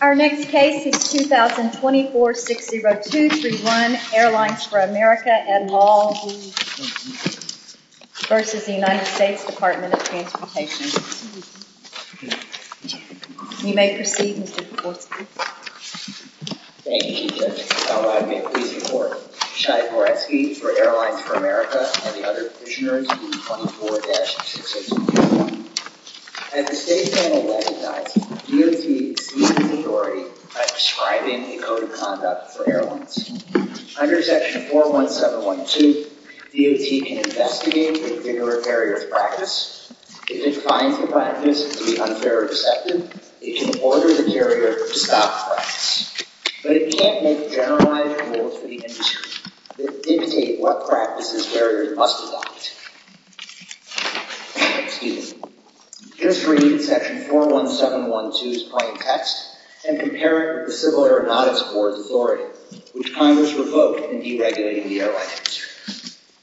Our next case is 2024-602-31, Airlines for America at Long Beach v. United States Dept of Transportation. You may proceed, Mr. Sportsman. Thank you, Mr. Sportsman. I would like to make a brief report. Shai Goretsky for Airlines for America and the other commissioners in 2024-602-31. As the State Panel legislator, DOD leads the story by prescribing the Code of Conduct for Airlines. Under Section 417.2, DOD can investigate and figure a barrier of progress. If it finds the practice to be unfair or deceptive, it can order the carrier to stop the practice. But it can't make generalized rules for the industry that indicate what practice the carrier must adopt. Excuse me. Just read Section 417.2's plain text and compare it with the Civil Air and Nautical Sports Authority, which Congress revoked in deregulating the airline industry.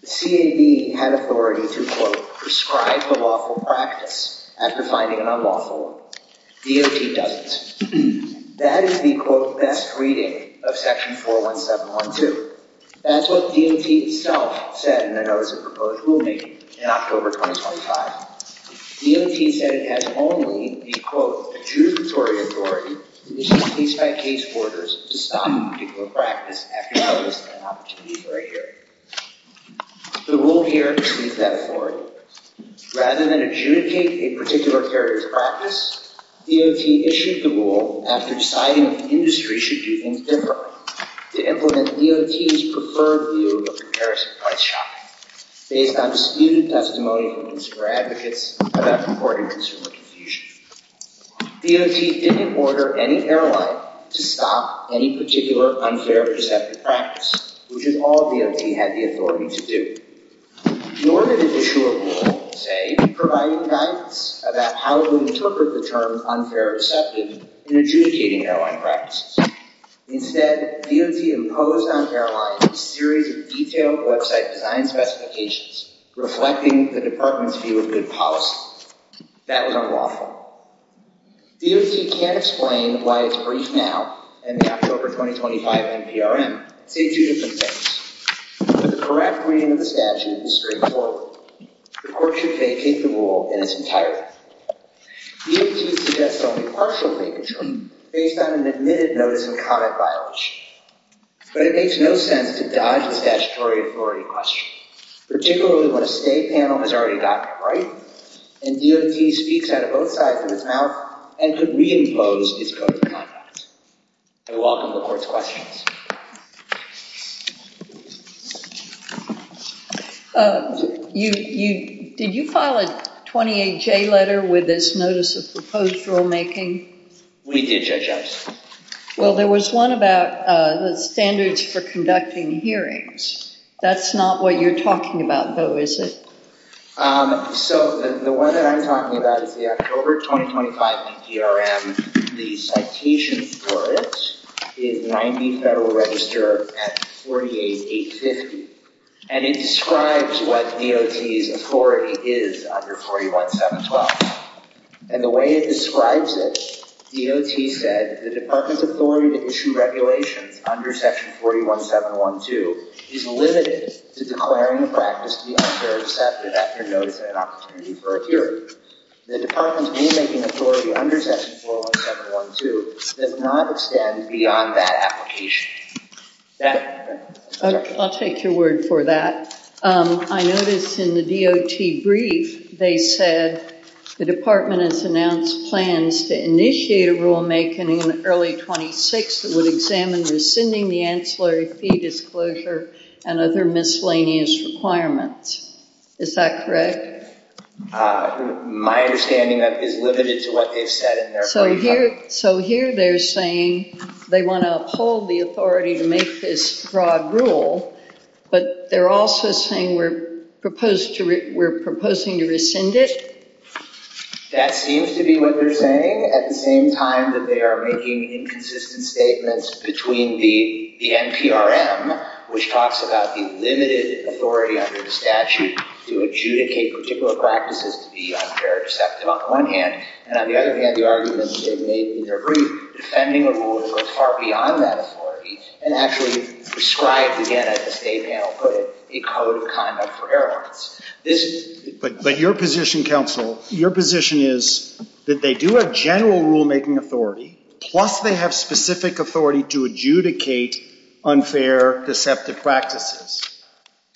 The CAB had authority to, quote, prescribe the lawful practice as defining an unlawful one. DOD doesn't. That is the, quote, best reading of Section 417.2. That's what DOD itself said in the notice of proposed ruling in October 2025. DOD said it has only, we quote, a judicatory authority to meet these high case orders to stop a particular practice after hours and opportunities for a carrier. The rule here exceeds that authority. Rather than adjudicate a particular carrier's practice, DOD issued the rule after deciding what industry should use in Denver to implement DOD's preferred view of the carrier supply chain. DOD didn't order any airline to stop any particular unfair or deceptive practice, which is all DOD had the authority to do. More than an issue of rule, say, providing guidance about how to interpret the term unfair or deceptive in adjudicating airline practices. Instead, DOD imposed unfair or unlawful security through detailed website design specifications reflecting the Department's view of good policy. That is unlawful. DOD can't explain why a brief now and the October 2025 NPRM did two different things. The correct reading of the statute is straightforward. The court should say, take the rule in its entirety. DOD should suggest only partial vacancy based on an admitted notice of product violation. But it makes no sense to dodge the statutory authority question, particularly when a state panel has already gotten it right and DOD speaks out of both sides of the town and could reimpose its code of conduct. I welcome the court's questions. Did you file a 28J letter with this notice of proposed rulemaking? We did, Judge Eisen. Well, there was one about the standards for conducting hearings. That's not what you're talking about, though, is it? So, the one that I'm talking about is the October 2025 NPRM, the citation for it. It might be federal register at 48850. And it describes what DOD's authority is under 41712. And the way it describes it, DOT said, the department's authority to issue regulations under section 41712 is limited to declaring the practice to be under-accepted after notice and opportunity for a hearing. The department's rulemaking authority under section 41712 does not extend beyond that application. I'll take your word for that. I noticed in the DOT brief they said the department has announced plans to initiate a rulemaking in early 2026 that would examine rescinding the ancillary fee disclosure and other miscellaneous requirements. Is that correct? My understanding of it is limited to what they said in their first part. So, here they're saying they want to uphold the authority to make this fraud rule, but they're also saying we're proposing to rescind it? That seems to be what they're saying, at the same time that they are making inconsistent statements between the NPRM, which talks about the limited authority under the statute to adjudicate particular practices to be under-accepted on the one hand, and on the other hand, the arguments they've made in their brief defending the rule goes far beyond that authority and actually describes, again, as the state panel put it, a code of conduct for error. But your position, counsel, your position is that they do have general rulemaking authority, plus they have specific authority to adjudicate unfair, deceptive practices.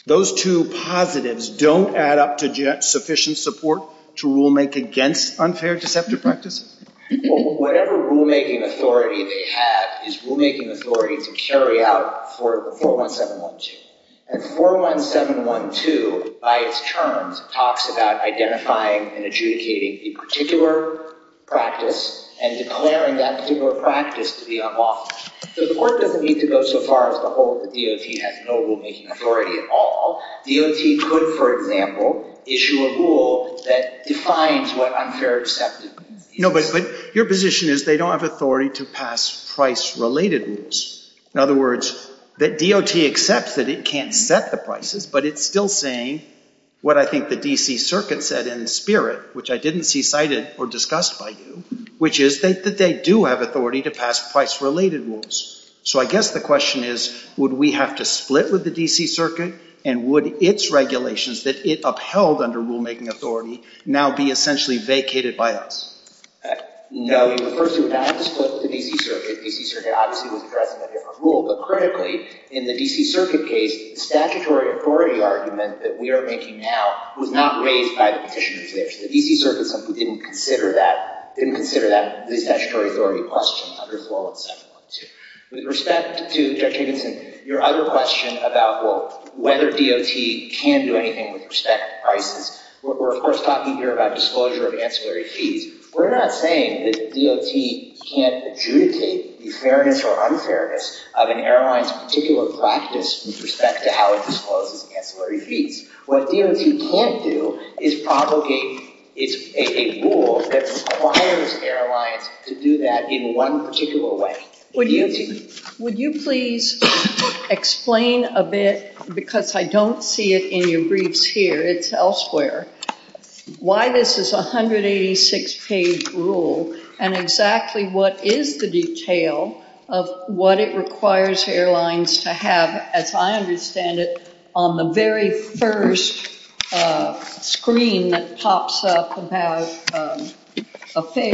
Those two positives don't add up to sufficient support to rulemake against unfair, deceptive practices? Well, whatever rulemaking authority they have is rulemaking authority to carry out for the 41712. And the 41712, by its terms, talks about identifying and adjudicating a particular practice and declaring that similar practice to be unlawful. So the court doesn't need to go so far as to hope that DOT has no rulemaking authority at all. DOT could, for example, issue a rule that defines what unfair, deceptive— But your position is they don't have authority to pass price-related rules. In other words, DOT accepts that it can't set the prices, but it's still saying what I think the D.C. Circuit said in spirit, which I didn't see cited or discussed by you, which is that they do have authority to pass price-related rules. So I guess the question is, would we have to split with the D.C. Circuit, and would its regulations that it upheld under rulemaking authority now be essentially vacated by us? No, the person who had to split with the D.C. Circuit, the D.C. Circuit obviously would present a different rule. But critically, in the D.C. Circuit case, the statutory authority argument that we are making now was not raised by the petitioners there. The D.C. Circuit simply didn't consider that the statutory authority question as well as I wanted to. With respect to your other question about whether DOT can do anything with respect to prices, we're of course talking here about disclosure of ancillary fees. We're not saying that DOT can't adjudicate the fairness or unfairness of an airline's particular practice with respect to how it discloses ancillary fees. What DOT can do is propagate a rule that requires airlines to do that in one particular way. Would you please explain a bit, because I don't see it in your briefs here, it's elsewhere, why this is a 186-page rule, and exactly what is the detail of what it requires airlines to have, as I understand it, on the very first screen that pops up about a fare?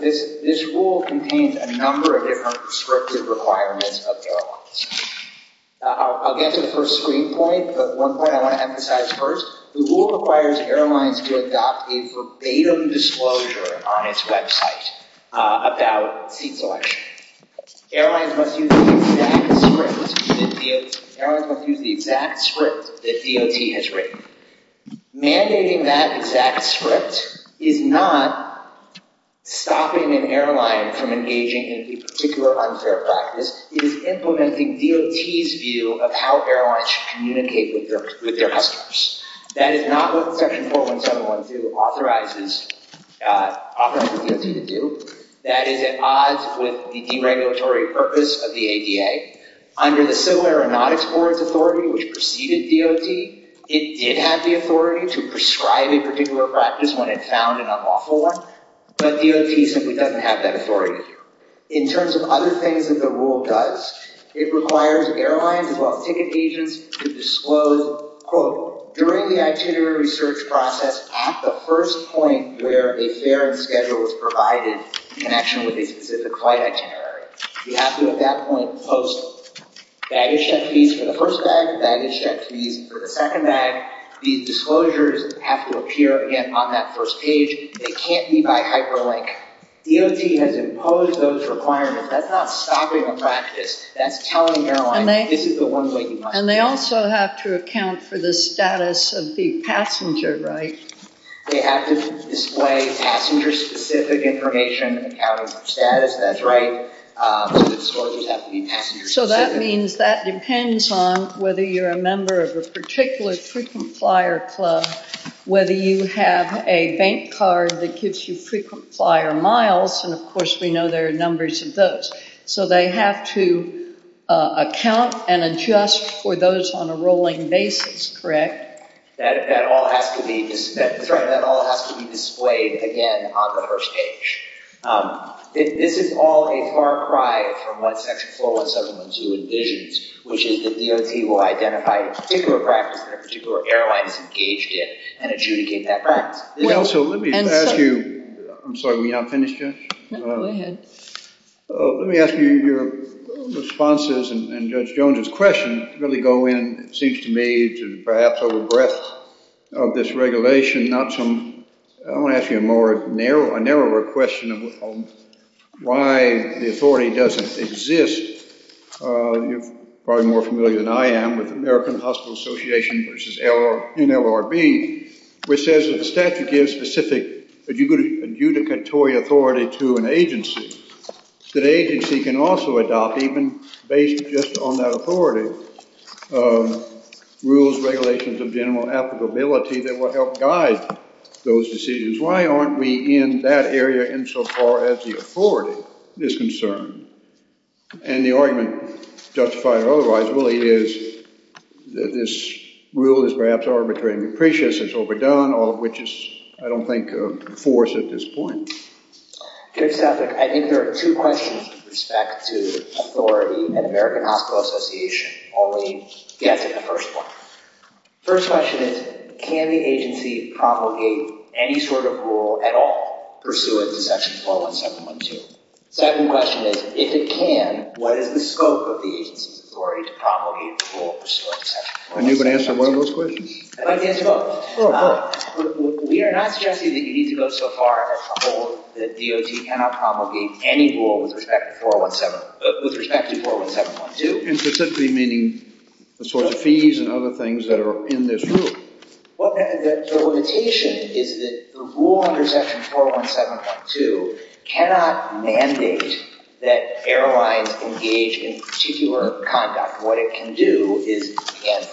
This rule contains a number of different prescriptive requirements of airlines. I'll get to the first screen point, but one point I want to emphasize first. The rule requires airlines to adopt a verbatim disclosure on its website about the collection. Airlines must use the exact script that DOT has written. Mandating that exact script is not stopping an airline from engaging in a particular unfair practice. It is implementing DOT's view of how airlines communicate with their customers. That is not what Section 41712 authorizes DOT to do. That is at odds with the deregulatory purpose of the ADA. Under the civil aeronautics board's authority, which preceded DOT, it did have the authority to prescribe a particular practice when it found an unlawful one, but DOT simply doesn't have that authority. In terms of other things that the rule does, it requires airlines or ticket agents to disclose, quote, during the itinerary research process at the first point where a fare and schedule was provided in connection with a specific flight itinerary. You have to, at that point, post baggage check fees for the first bag, baggage check fees for the second bag. These disclosures have to appear again on that first page. They can't be by hyperlink. DOT has imposed those requirements. That's not stopping a practice. That's telling an airline, this is the one way you must do it. And they also have to account for the status of the passenger, right? They have to display passenger-specific information and account for status. That's right. The disclosures have to be passenger-specific. So that means that depends on whether you're a member of a particular frequent flyer club, whether you have a bank card that gives you frequent flyer miles. And, of course, we know there are numbers of those. So they have to account and adjust for those on a rolling basis, correct? That all has to be displayed again on the first page. This is all a far cry from what Section 417.2 engages, which is that DOT will identify a particular practice that a particular airline is engaged in and adjudicate that practice. Well, so let me ask you. I'm sorry, are we not finished yet? Go ahead. Let me ask you, your responses and Judge Jones' questions really go in, it seems to me, to perhaps over the breadth of this regulation. I'm going to ask you a narrower question of why the authority doesn't exist. You're probably more familiar than I am with the American Hospital Association v. LRB, which says that the statute gives specific adjudicatory authority to an agency. The agency can also adopt, even based just on that authority, rules, regulations of general applicability that will help guide those decisions. Why aren't we in that area insofar as the authority is concerned? And the argument, justified or otherwise, really is that this rule is perhaps arbitrary and imprecious, it's overdone, or which is, I don't think, a force at this point. I think there are two questions with respect to authority that the American Hospital Association only gets in the first one. The first question is, can the agency propagate any sort of rule at all, pursuant to Section 112? The second question is, if it can, what is the scope of the agency's authority to propagate the rule pursuant to Section 112? And you can answer one of those questions. I'd like to answer both. Sure. We are not suggesting that the agency goes so far as to suppose that the agency cannot propagate any rule with respect to 417.2. And specifically meaning the sorts of fees and other things that are in this rule. What that means is that the limitation is that the rule under Section 417.2 cannot mandate that airlines engage in particular conduct. What it can do is,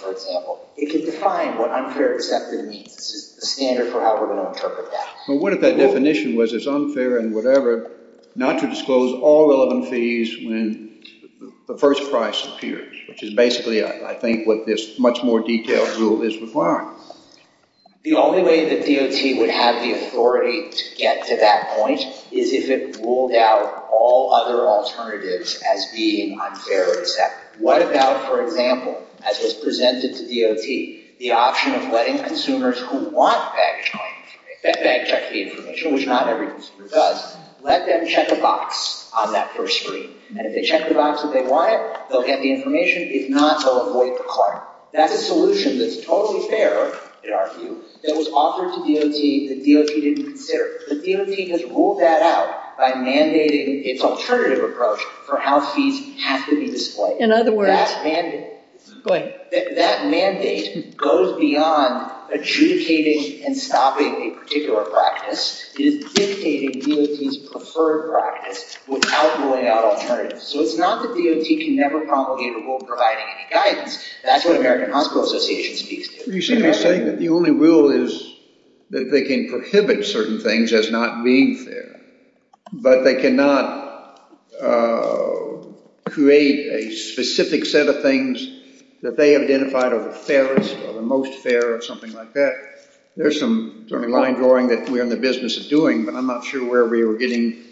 for example, it can define what unfair or deceptive means. It's the standard for how we want to interpret that. But what if that definition was it's unfair and whatever, not to disclose all relevant fees when the first price appears, which is basically, I think, what this much more detailed rule is requiring. The only way that the DOT would have the authority to get to that point is if it ruled out all other alternatives as being unfair or deceptive. What about, for example, as is presented to DOT, the option of letting consumers who want baggage charges, that baggage charge fee information, which not every consumer does, let them check a box on that first screen. And if they check the box that they want, they'll get the information. If not, they'll avoid the card. That is a solution that's totally fair, I'd argue, that was offered to DOT that DOT didn't consider. The DOT has ruled that out by mandating its alternative approach for how fees have to be displayed. In other words, that mandate goes beyond adjudicating and stopping a particular practice. It is dictating DOT's preferred practice without ruling out alternatives. So it's not that DOT can never properly be able to provide any guidance. That's what American Hospital Association speaks to. You see what I'm saying? The only rule is that they can prohibit certain things as not being fair. But they cannot create a specific set of things that they have identified are the fairest or the most fair or something like that. There's some sort of line drawing that we're in the business of doing, but I'm not sure where we're getting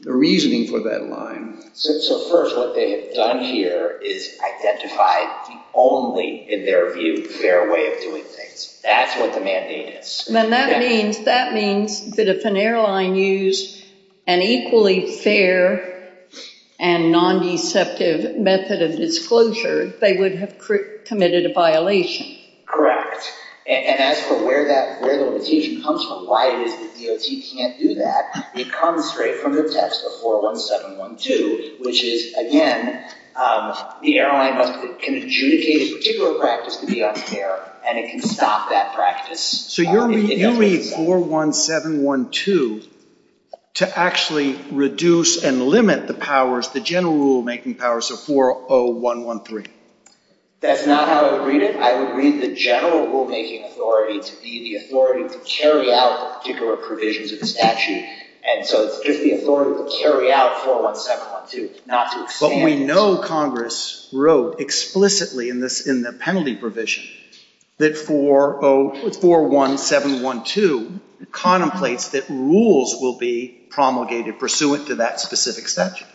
the reasoning for that line. So first of all, what they've done here is identify the only, in their view, fair way of doing things. That's what the mandate is. Then that means that if an airline used an equally fair and non-deceptive method of disclosure, they would have committed a violation. Correct. And as for where that limitation comes from, why the DOT can't do that, it comes straight from the test of 41712, which is, again, the airline can adjudicate a particular practice to be unfair, and it can stop that practice. So you read 41712 to actually reduce and limit the powers, the general rulemaking powers of 40113. That's not how I would read it. I would read the general rulemaking authority to be the authority to carry out particular provisions of the statute. And so if the authority would carry out 41712, not to expand it. But we know Congress wrote explicitly in the penalty provision that 41712 contemplates that rules will be promulgated pursuant to that specific statute.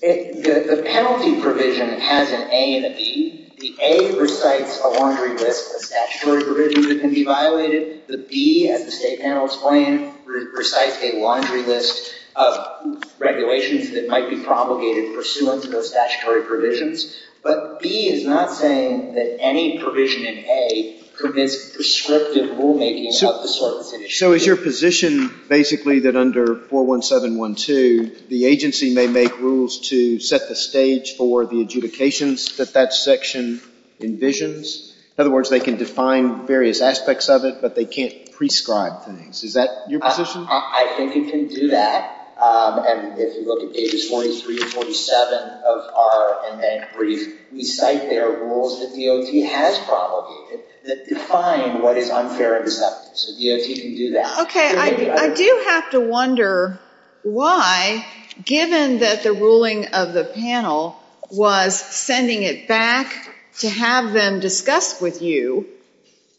The penalty provision has an A and a B. The A recites a laundry list of statutory provisions that can be violated. The B, as the statement will explain, recites a laundry list of regulations that might be promulgated pursuant to those statutory provisions. But B is not saying that any provision in A permits prescriptive rulemaking of the statutory provisions. So is your position basically that under 41712, the agency may make rules to set the stage for the adjudications that that section envisions? In other words, they can define various aspects of it, but they can't prescribe things. Is that your position? I think it can do that. And if you look at pages 43 to 47 of our amendment brief, we cite there rules that DOT has promulgated that define what is unfair and deceptive. So DOT can do that. Okay, I do have to wonder why, given that the ruling of the panel was sending it back to have them discuss with you,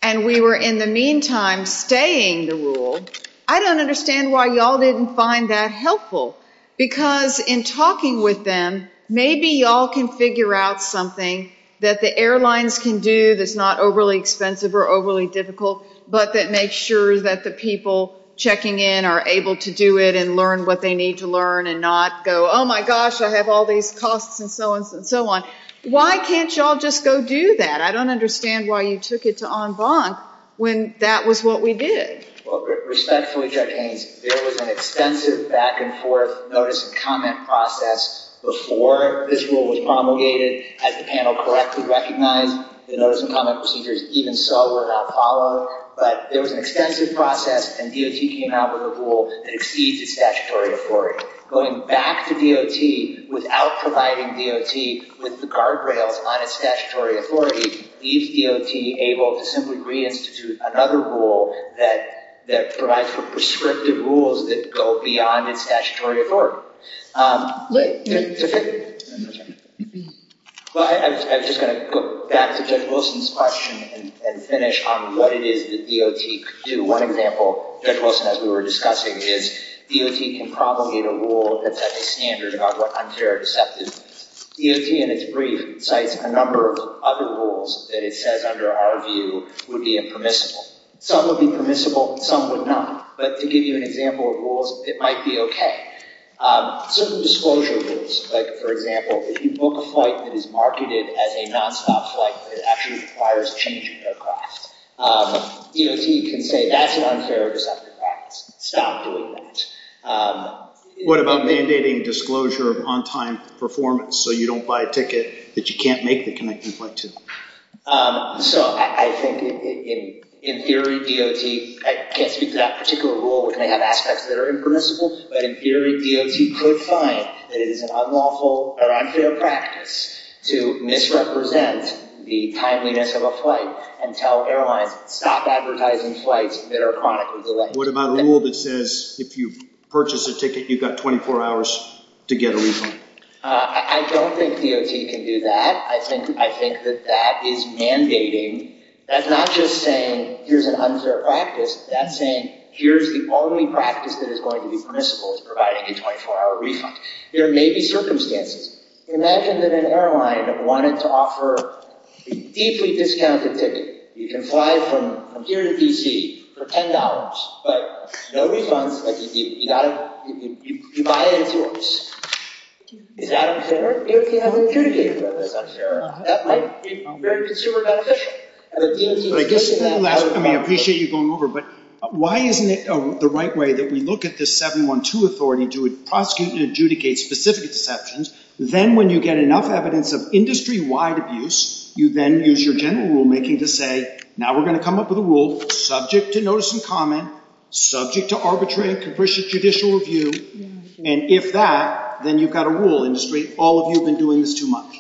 and we were in the meantime staying the rule, I don't understand why y'all didn't find that helpful. Because in talking with them, maybe y'all can figure out something that the airlines can do that's not overly expensive or overly difficult, but that makes sure that the people checking in are able to do it and learn what they need to learn and not go, oh my gosh, I have all these costs and so on and so on. Why can't y'all just go do that? I don't understand why you took it to en banc when that was what we did. Well, respectfully, Judge Haynes, there was an extensive back-and-forth notice and comment process before this rule was promulgated. As the panel correctly recognized, the notice and comment procedures even so were not followed. But there was an extensive process, and DOT came out with a rule that exceeds statutory authority. Going back to DOT without providing DOT with the guardrails on its statutory authority, is DOT able to simply reinstitute another rule that provides for prescriptive rules that go beyond its statutory authority? I'm just going to go back to Judge Wilson's question and finish on what it is that DOT can do. One example, Judge Wilson, as we were discussing, is DOT can promulgate a rule that sets a standard of unfair and deceptive. DOT, in its brief, cites a number of other rules that it says, under our view, would be impermissible. Some would be permissible, some would not. But to give you an example of rules, it might be okay. Certain disclosure rules, like, for example, if you book a flight that is marketed as a nonstop flight, it actually requires changing aircraft. DOT can say, that's an unfair and deceptive practice. Stop doing that. What about mandating disclosure of on-time performance so you don't buy a ticket that you can't make the connecting flight to? So, I think, in theory, DOT can't do that particular rule when they have aspects that are impermissible. But in theory, DOT could find that it is an unlawful or unfair practice to misrepresent the timeliness of a flight and tell airlines, stop advertising flights that are chronically delayed. What about a rule that says, if you purchase a ticket, you've got 24 hours to get a reason? I don't think DOT can do that. I think that that is mandating. That's not just saying, here's an unfair practice. That's saying, here's the only practice that is going to be permissible to provide a 24-hour refund. There may be circumstances. Imagine that an airline wanted to offer a deeply discounted ticket. You can fly from here to D.C. for $10, but no refund. You've got to buy it in force. Is that it, Sarah? I appreciate you going over, but why isn't it the right way that we look at the 712 authority to prosecute and adjudicate specific deceptions, then when you get enough evidence of industry-wide abuse, you then use your general rulemaking to say, now we're going to come up with a rule subject to notice and comment, subject to arbitrary and capricious judicial review, and if that, then you've got a rule in which all of you have been doing this too much.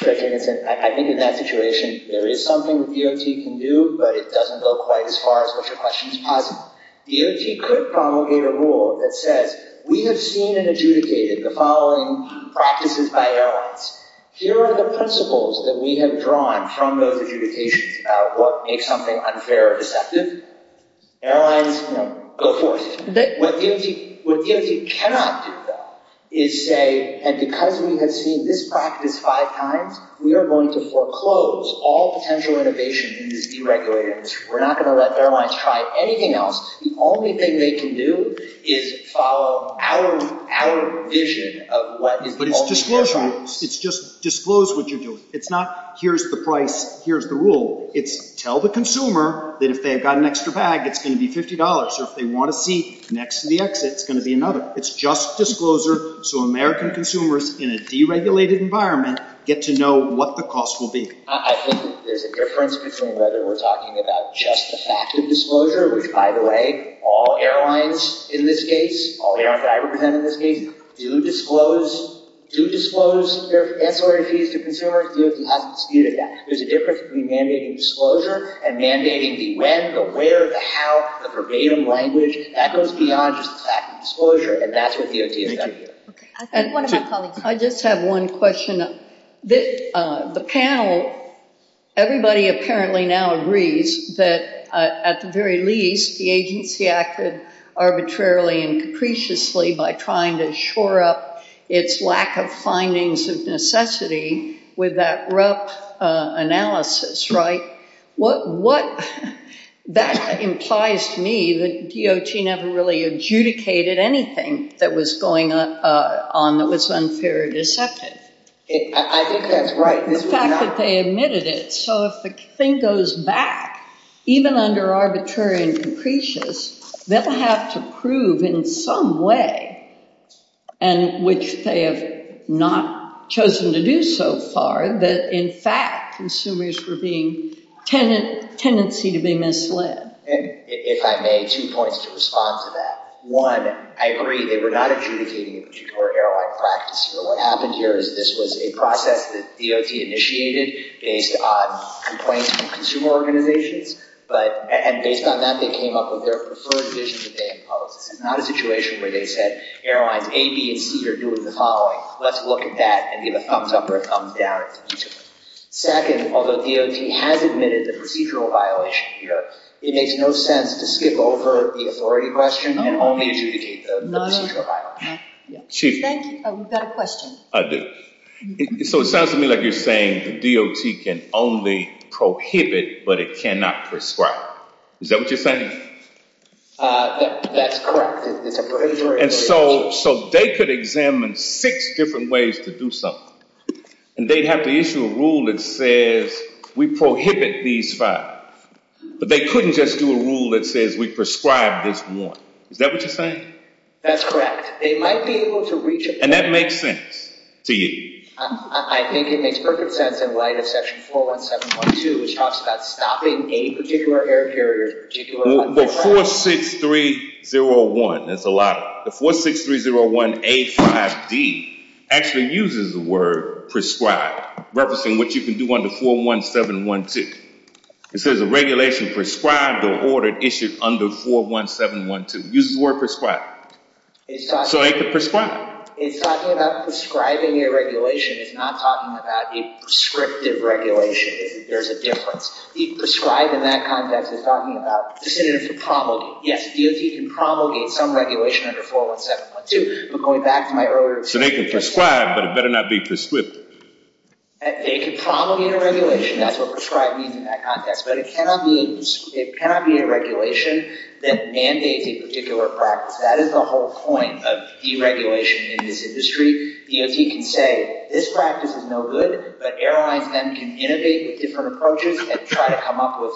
I think in that situation, there is something that DOT can do, but it doesn't go quite as far as what you're asking is possible. DOT could promulgate a rule that said, we have seen and adjudicated the following practices by airlines. Here are the principles that we have drawn from those adjudications about what makes something unfair or deceptive. Airlines, you know, go forth. What DOT cannot do, though, is say, and because we have seen this practice five times, we are going to foreclose all potential innovation in these deregulated industries. We're not going to let airlines try anything else. The only thing they can do is follow our vision of what the goal is. It's just disclose what you're doing. It's not, here's the price, here's the rule. It's tell the consumer that if they've got an extra bag, it's going to be $50, so if they want a seat next to the exit, it's going to be another. It's just disclosure, so American consumers in a deregulated environment get to know what the cost will be. I think there's a difference between whether we're talking about just the fact of disclosure, which, by the way, all airlines in this case, all airlines that I represent in this meeting, do disclose their mandatory fees to consumers, do it without disputing that. There's a difference between mandating disclosure and mandating the when, the where, the how, the pervading language. That goes beyond just the fact of disclosure, and that's what we have to do. I just have one question. The panel, everybody apparently now agrees that at the very least, the agency acted arbitrarily and capriciously by trying to shore up its lack of findings of necessity with that rough analysis, right? That implies to me that the DOT never really adjudicated anything that was going on that was unfair or deceptive. I think that's right. The fact that they admitted it, so if the thing goes back, even under arbitrary and capricious, then they have to prove in some way, and which they have not chosen to do so far, that in fact consumers were being, tendency to be misled. And if I may, two points to respond to that. One, I agree they were not adjudicating in particular airline practice. So what happened here is this was a process that DOT initiated based on complaints from consumer organizations, and based on that, they came up with their preferred vision today in public. It's not a situation where they said, airline A, B, and C are doing the following. Let's look at that and get a thumbs up or a thumbs down. Second, although DOT has admitted the procedural violation here, it makes no sense to skip over the authority question and only adjudicate the procedural violation. Chief. We've got a question. I do. So it sounds to me like you're saying DOT can only prohibit, but it cannot prescribe. Is that what you're saying? That's correct. And so they could examine six different ways to do something, and they'd have to issue a rule that says we prohibit these five. But they couldn't just do a rule that says we prescribe this one. Is that what you're saying? That's correct. They might be able to reach it. And that makes sense to you? I think it makes perfect sense in light of Section 417.2, which talks about stopping a particular air carrier. Well, 46301, that's a lot. The 46301A-B actually uses the word prescribed, representing what you can do under 417.1.6. It says a regulation prescribed or ordered issues under 417.1.2. Use the word prescribed. It's talking about prescribing a regulation. It's not talking about the prescriptive regulation. There's a difference. The prescribed in that context is talking about definitive probability. Yes, DOT can probably get some regulation under 417.1.2. But going back to my earlier example. So they can prescribe, but it better not be prescriptive. They can probably get a regulation. That's what prescribed means in that context. But it cannot be a regulation that mandates a particular practice. That is the whole point of deregulation in this industry. DOT can say this practice is no good, but airlines then can innovate different approaches and try to come up with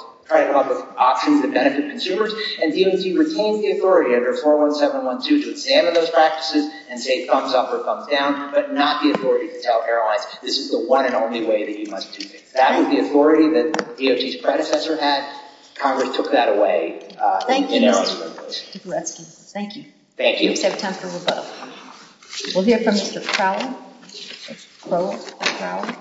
options that benefit consumers. And DOT retains the authority under 417.1.2 to examine those practices and take thumbs up or thumbs down, but not the authority to tell airlines this is the one and only way that you must do this. That is the authority that DOT's predecessor has. Congress took that away. Thank you. Thank you. Thank you. We'll hear from Mr. Stroud. Mr. Stroud.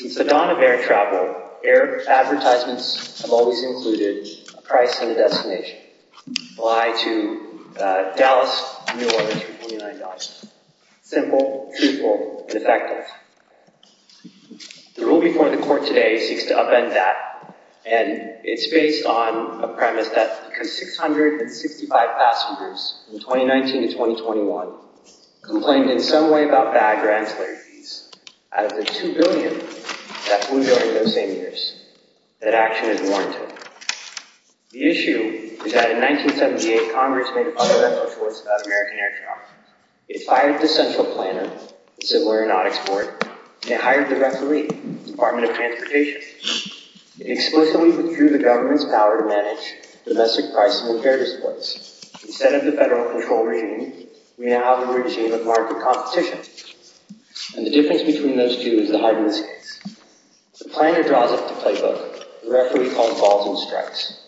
In the dawn of air travel, air advertisements have always included a price and a destination. Fly to Dallas, New York, or the United States. Simple, truthful, and effective. The rule before the court today is to upend that. And it's based on a premise that 665 passengers in 2019-2021 complained in some way about bad ground clearance fees. Out of the $2 billion that flew there in those same years, that action is warranted. The issue is that in 1978, Congress made a public effort towards American air travel. It fired the central planner and said we're not exporting. It hired the referee, the Department of Transportation. It explicitly withdrew the government's power to manage domestic prices and fare disbursements. Instead of the federal control rating, we now have a regime of market competition. And the difference between those two is a high risk. The planner draws up the type of referee phone calls and strikes.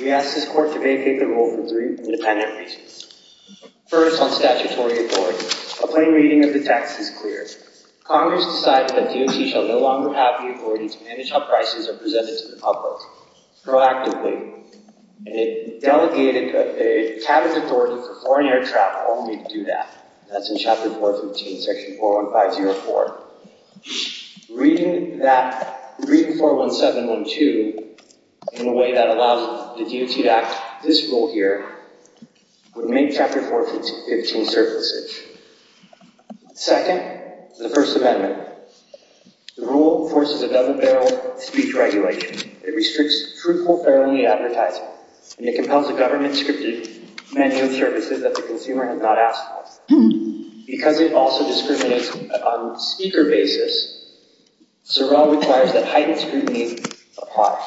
We ask this court today to give them over three independent reasons. First, on statutory authority. A plain reading of the tax is cleared. Congress decides that the agency shall no longer have the authority to manage how prices are presented to the public. Proactively. And it delegated a tax authority for foreign air travel only to do that. That's in Chapter 415, Section 415.04. Reading that, reading 417.12 in a way that allows the DOT to act. This rule here would make Chapter 415.15 services. Second, the First Amendment. The rule enforces a federal speech regulation. It restricts truthful, fairly advertised. And it compels the government to manually ensure that the consumer is not asked to. Because it also discriminates on a speaker basis, so it all requires that height and scrutiny apply.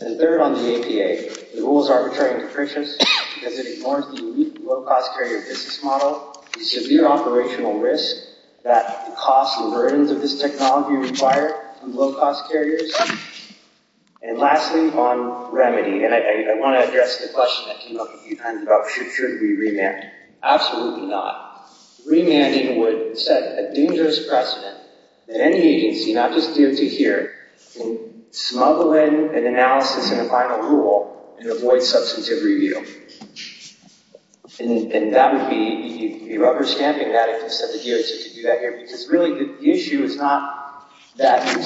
And the third one, the ADA. The rule is arbitrarily precious because it ignores the unique low-cost carrier business model, the severe operational risk that the costs and burdens of this technology require from low-cost carriers. And lastly, on remedy. And I want to address the question that came up a few times about should we remand. Absolutely not. Remanding would set a dangerous precedent that any agency, not just the agency here, will smuggle in an analysis and a final rule and avoid substantive review. And that would be a rubber stamp in the back of the head of the agency. Really, the issue is not that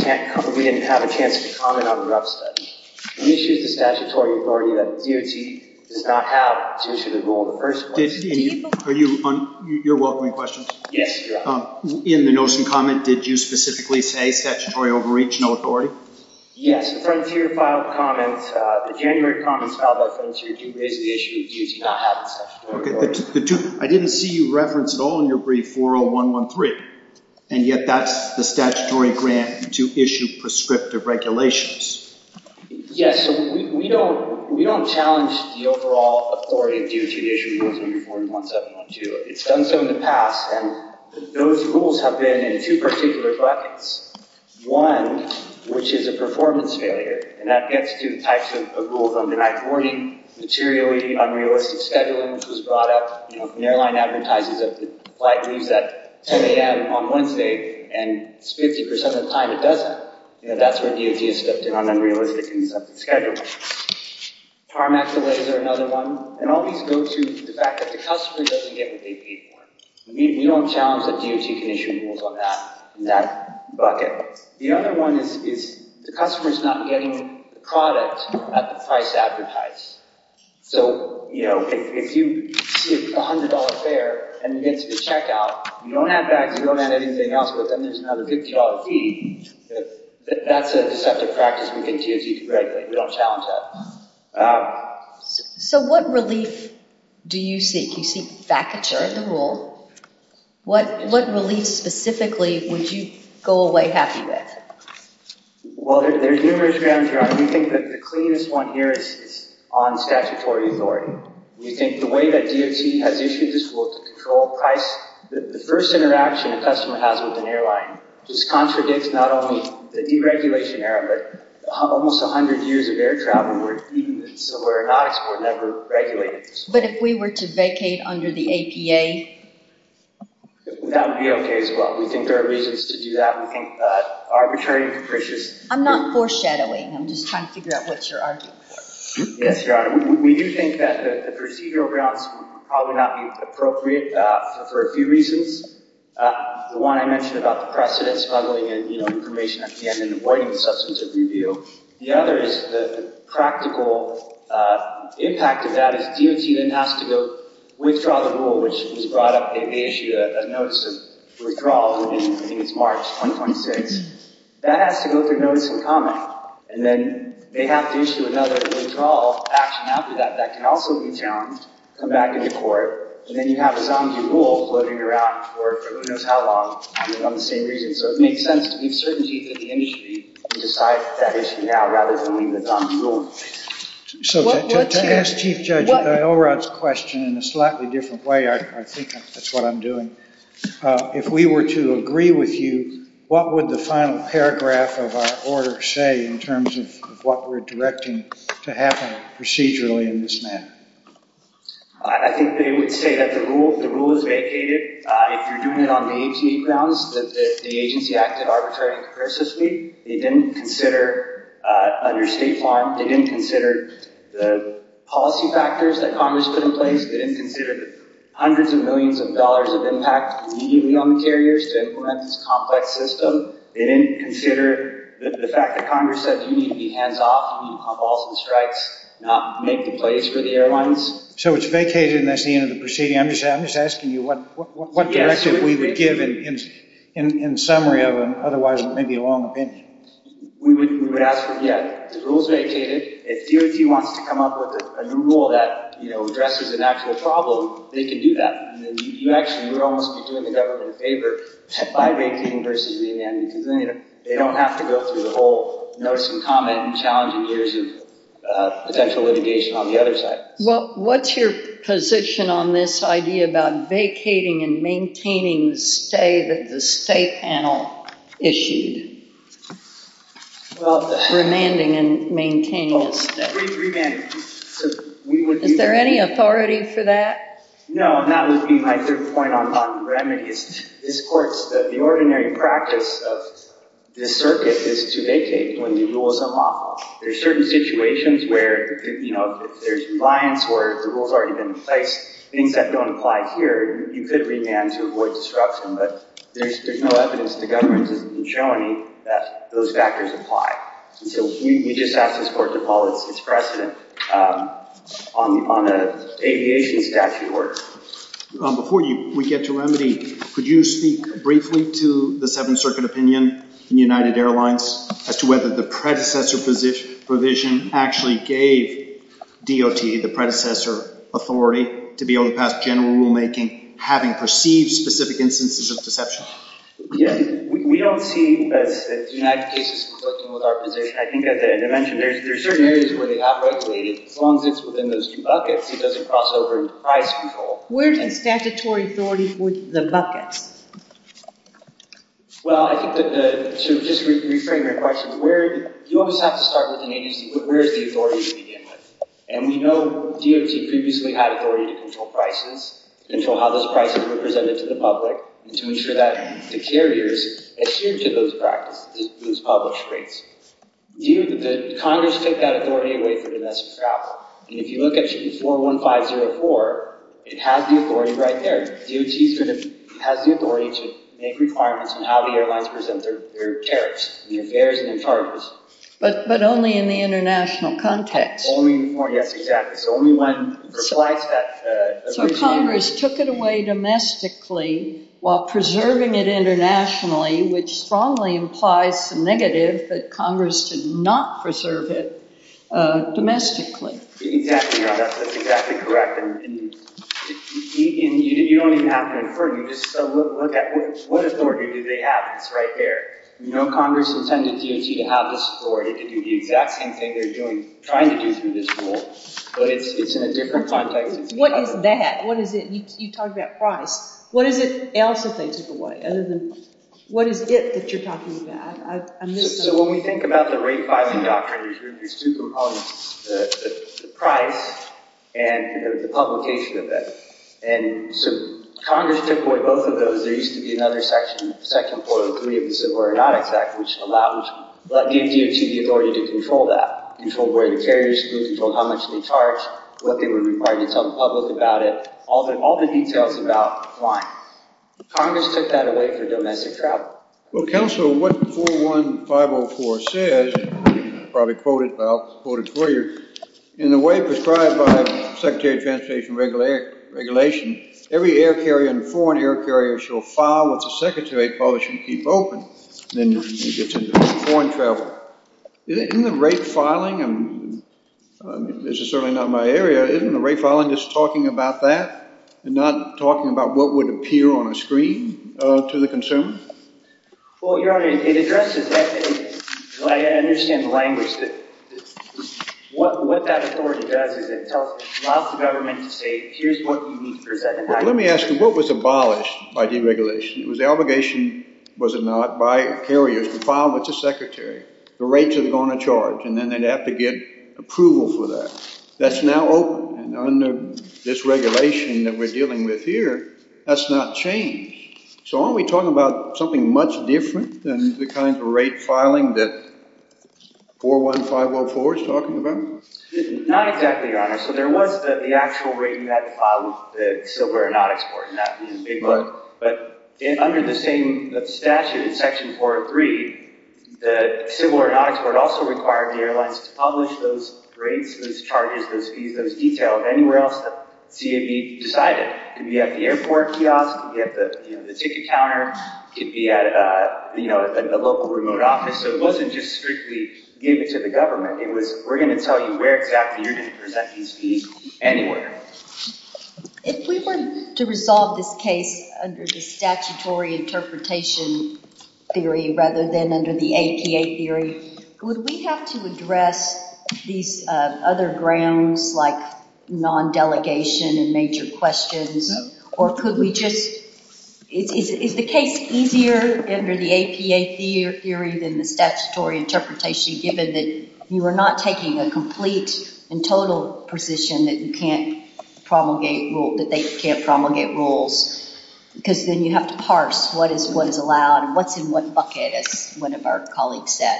we didn't have a chance to comment on the rubber stamp. The issue is the statutory authority that the agency does not have to issue the rule in the first place. You're welcoming questions? Yes. In the notion of comment, did you specifically say statutory overreach, no authority? Yes. The January comment was filed up in two days. The issue is that the agency does not have the statutory authority. I didn't see you reference it all in your brief, 4.0.1.1.3. And yet that's the statutory grant to issue prescriptive regulations. Yes. We don't challenge the overall authority to issue rules in 4.0.1.7.1.2. It's done so in the past. And those rules have been in two particular buckets. One, which is a performance failure. And that gets to the types of rules on the night of the morning. Materiality, unrealistic scheduling, which was brought up. The airline advertises that the flight leaves at 10 a.m. on Wednesday and it's 50% of the time it doesn't. That's when the agency expects unrealistic things on the schedule. And all these go to the fact that the customer doesn't get what they paid for. We don't challenge the DOT commissioning rules on that in that bucket. The other one is the customer's not getting the product at the price advertised. So, you know, if you get a $100 fare and it gets to checkout, you don't have that, you don't have anything else, but then there's another $50 fee. That's a deceptive practice we think the agency should regulate. We don't challenge that. So what relief do you seek? Do you seek statutory rules? What relief specifically would you go away happy with? Well, there's numerous ground here. I do think that the cleanest one here is on statutory authority. We think the way that DOT has issued this rule to control price, the first interaction a customer has with an airline, which is to contradict not only the deregulation error, but almost 100 years of air travel were deleted. So aeronautics were never regulated. But if we were to vacate under the APA? That would be OK as well. We think there are reasons to do that. I'm not foreshadowing. I'm just trying to figure out what your argument is. Yes, Your Honor. We do think that the procedural grounds would probably not be appropriate for a few reasons. The one I mentioned about the precedents, funneling in information at the end and avoiding the substance of review. The other is the practical impact of that is DOT then has to go withdraw the rule, which was brought up in the APA issue, a notice of withdrawal. I think it was March 1, 2006. That has to go through notice of comment. And then they have to issue another withdrawal action after that. That can also be challenged, come back to the court. And then you have a dominant rule floating around for who knows how long, given all the same reasons. So it makes sense to leave certainty to the industry to decide that issue now rather than leaving the dominant rule. So to ask Chief Judge Diorat's question in a slightly different way, I think that's what I'm doing. If we were to agree with you, what would the final paragraph of our order say in terms of what we're directing to happen procedurally in this matter? I think they would say that the rule is medicated. If you're doing it on the agency grounds, the agency acted arbitrarily. They didn't consider under State Farm. They didn't consider the policy factors that Congress put in place. They didn't consider hundreds of millions of dollars of impact immediately on the carriers to implement this complex system. They didn't consider the fact that Congress says you need to be hands-off on all strikes, making plays for the airlines. So it's medicated and that's the end of the proceeding. I'm just asking you what direction would you give in summary of it, otherwise it may be a long opinion. We would ask that, yes, the rule is medicated. If DOD wants to come up with a rule that addresses the natural problem, they can do that. You're almost doing the government a favor by vacating versus being handed. They don't have to go through the whole notice and comment and challenging areas of potential litigation on the other side. Well, what's your position on this idea about vacating and maintaining the state of the state panel issue? Remanding and maintaining. Remanding. Is there any authority for that? No, that would be my third point on non-remedy. Of course, the ordinary practice of this circuit is to vacate when the rule is unlawful. There are certain situations where, you know, there's reliance where the rules aren't even in place, things that don't apply here. You could remand to avoid destruction, but there's no evidence that the government has been showing that those factors apply. So you just have to support the policy. It's precedent. On the aviation, it actually works. Before we get to remedy, could you speak briefly to the Seventh Circuit opinion in United Airlines as to whether the predecessor provision actually gave DOT, the predecessor authority, to be able to pass general rulemaking, having perceived specific instances of deception? Yes. We don't see the United States working with our position. I think, as I mentioned, there are certain areas where they outrightly belong within those two buckets. It doesn't cross over into price control. Where's the statutory authority with the bucket? Well, I think that to just reframe your question, you almost have to start with the nation, but where's the authority to begin with? And we know DOT previously had authority to control prices, to control how those prices were presented to the public, to ensure that the carriers adhered to those practices, those published rates. The Congress took that authority away from the United States government. If you look at Section 415204, it had the authority right there. DOT has the authority to make requirements on how the airlines present their tariffs, the affairs and the tariffs. But only in the international context. Yes, exactly. So Congress took it away domestically while preserving it internationally, which strongly implies the negative that Congress did not preserve it domestically. Exactly. That's exactly correct. And you don't even have to infer. What authority did they have? It's right there. Congress intended DOT to have this authority to do the exact same thing they're doing, but it's in a different context. What is that? You talked about price. What is it else that they took away? What is it that you're talking about? So when we think about the rate-buying doctrine, it's really based upon the price and the publication of that. And so Congress took away both of those. There used to be another section, Section 4, including the Civil Aeronautics Act, which allowed the DOT authority to control that, to control where the carriers flew, to control how much they charged, what they were reporting to the public about it, all the details about why. Congress took that away for domestic travel. Well, Counselor, what 41504 says, I'll probably quote it for you, in the way prescribed by the Secretary of Transportation Regulations, every air carrier and foreign air carrier shall file what the Secretary calls and keep open, and then you get some foreign travel. Isn't the rate filing, and this is certainly not my area, isn't the rate filing just talking about that, and not talking about what would appear on a screen to the consumer? Well, Your Honor, in the context of that, I understand the language. What that report does is it tells not the government to say, here's what you need for that. Let me ask you, what was abolished by deregulation? Was the obligation, was it not, by carriers to file what the Secretary, the rates are going to charge, and then they'd have to get approval for that. That's now open, and under this regulation that we're dealing with here, that's not changed. So aren't we talking about something much different than the kind of rate filing that 41504 is talking about? Not exactly, Your Honor. So there was the actual rating that was filed, so we're not exporting that. But under the same statute in Section 403, the Civil Rights Act would also require the airlines to publish those rates, those charges, those details, anywhere else that the DAB decided. It could be at the airport kiosk, it could be at the ticket counter, it could be at a local remote office. So it wasn't just strictly given to the government. It was, we're going to tell you where exactly you're going to present these fees, anywhere. If we were to resolve this case under the statutory interpretation theory rather than under the APA theory, would we have to address these other grounds like non-delegation and major questions, or could we just, is the case easier under the APAC theory than the statutory interpretation, given that you are not taking a complete and total position that you can't promulgate rules, that they can't promulgate rules, because then you have to parse what is allowed and what's in what bucket, as one of our colleagues said.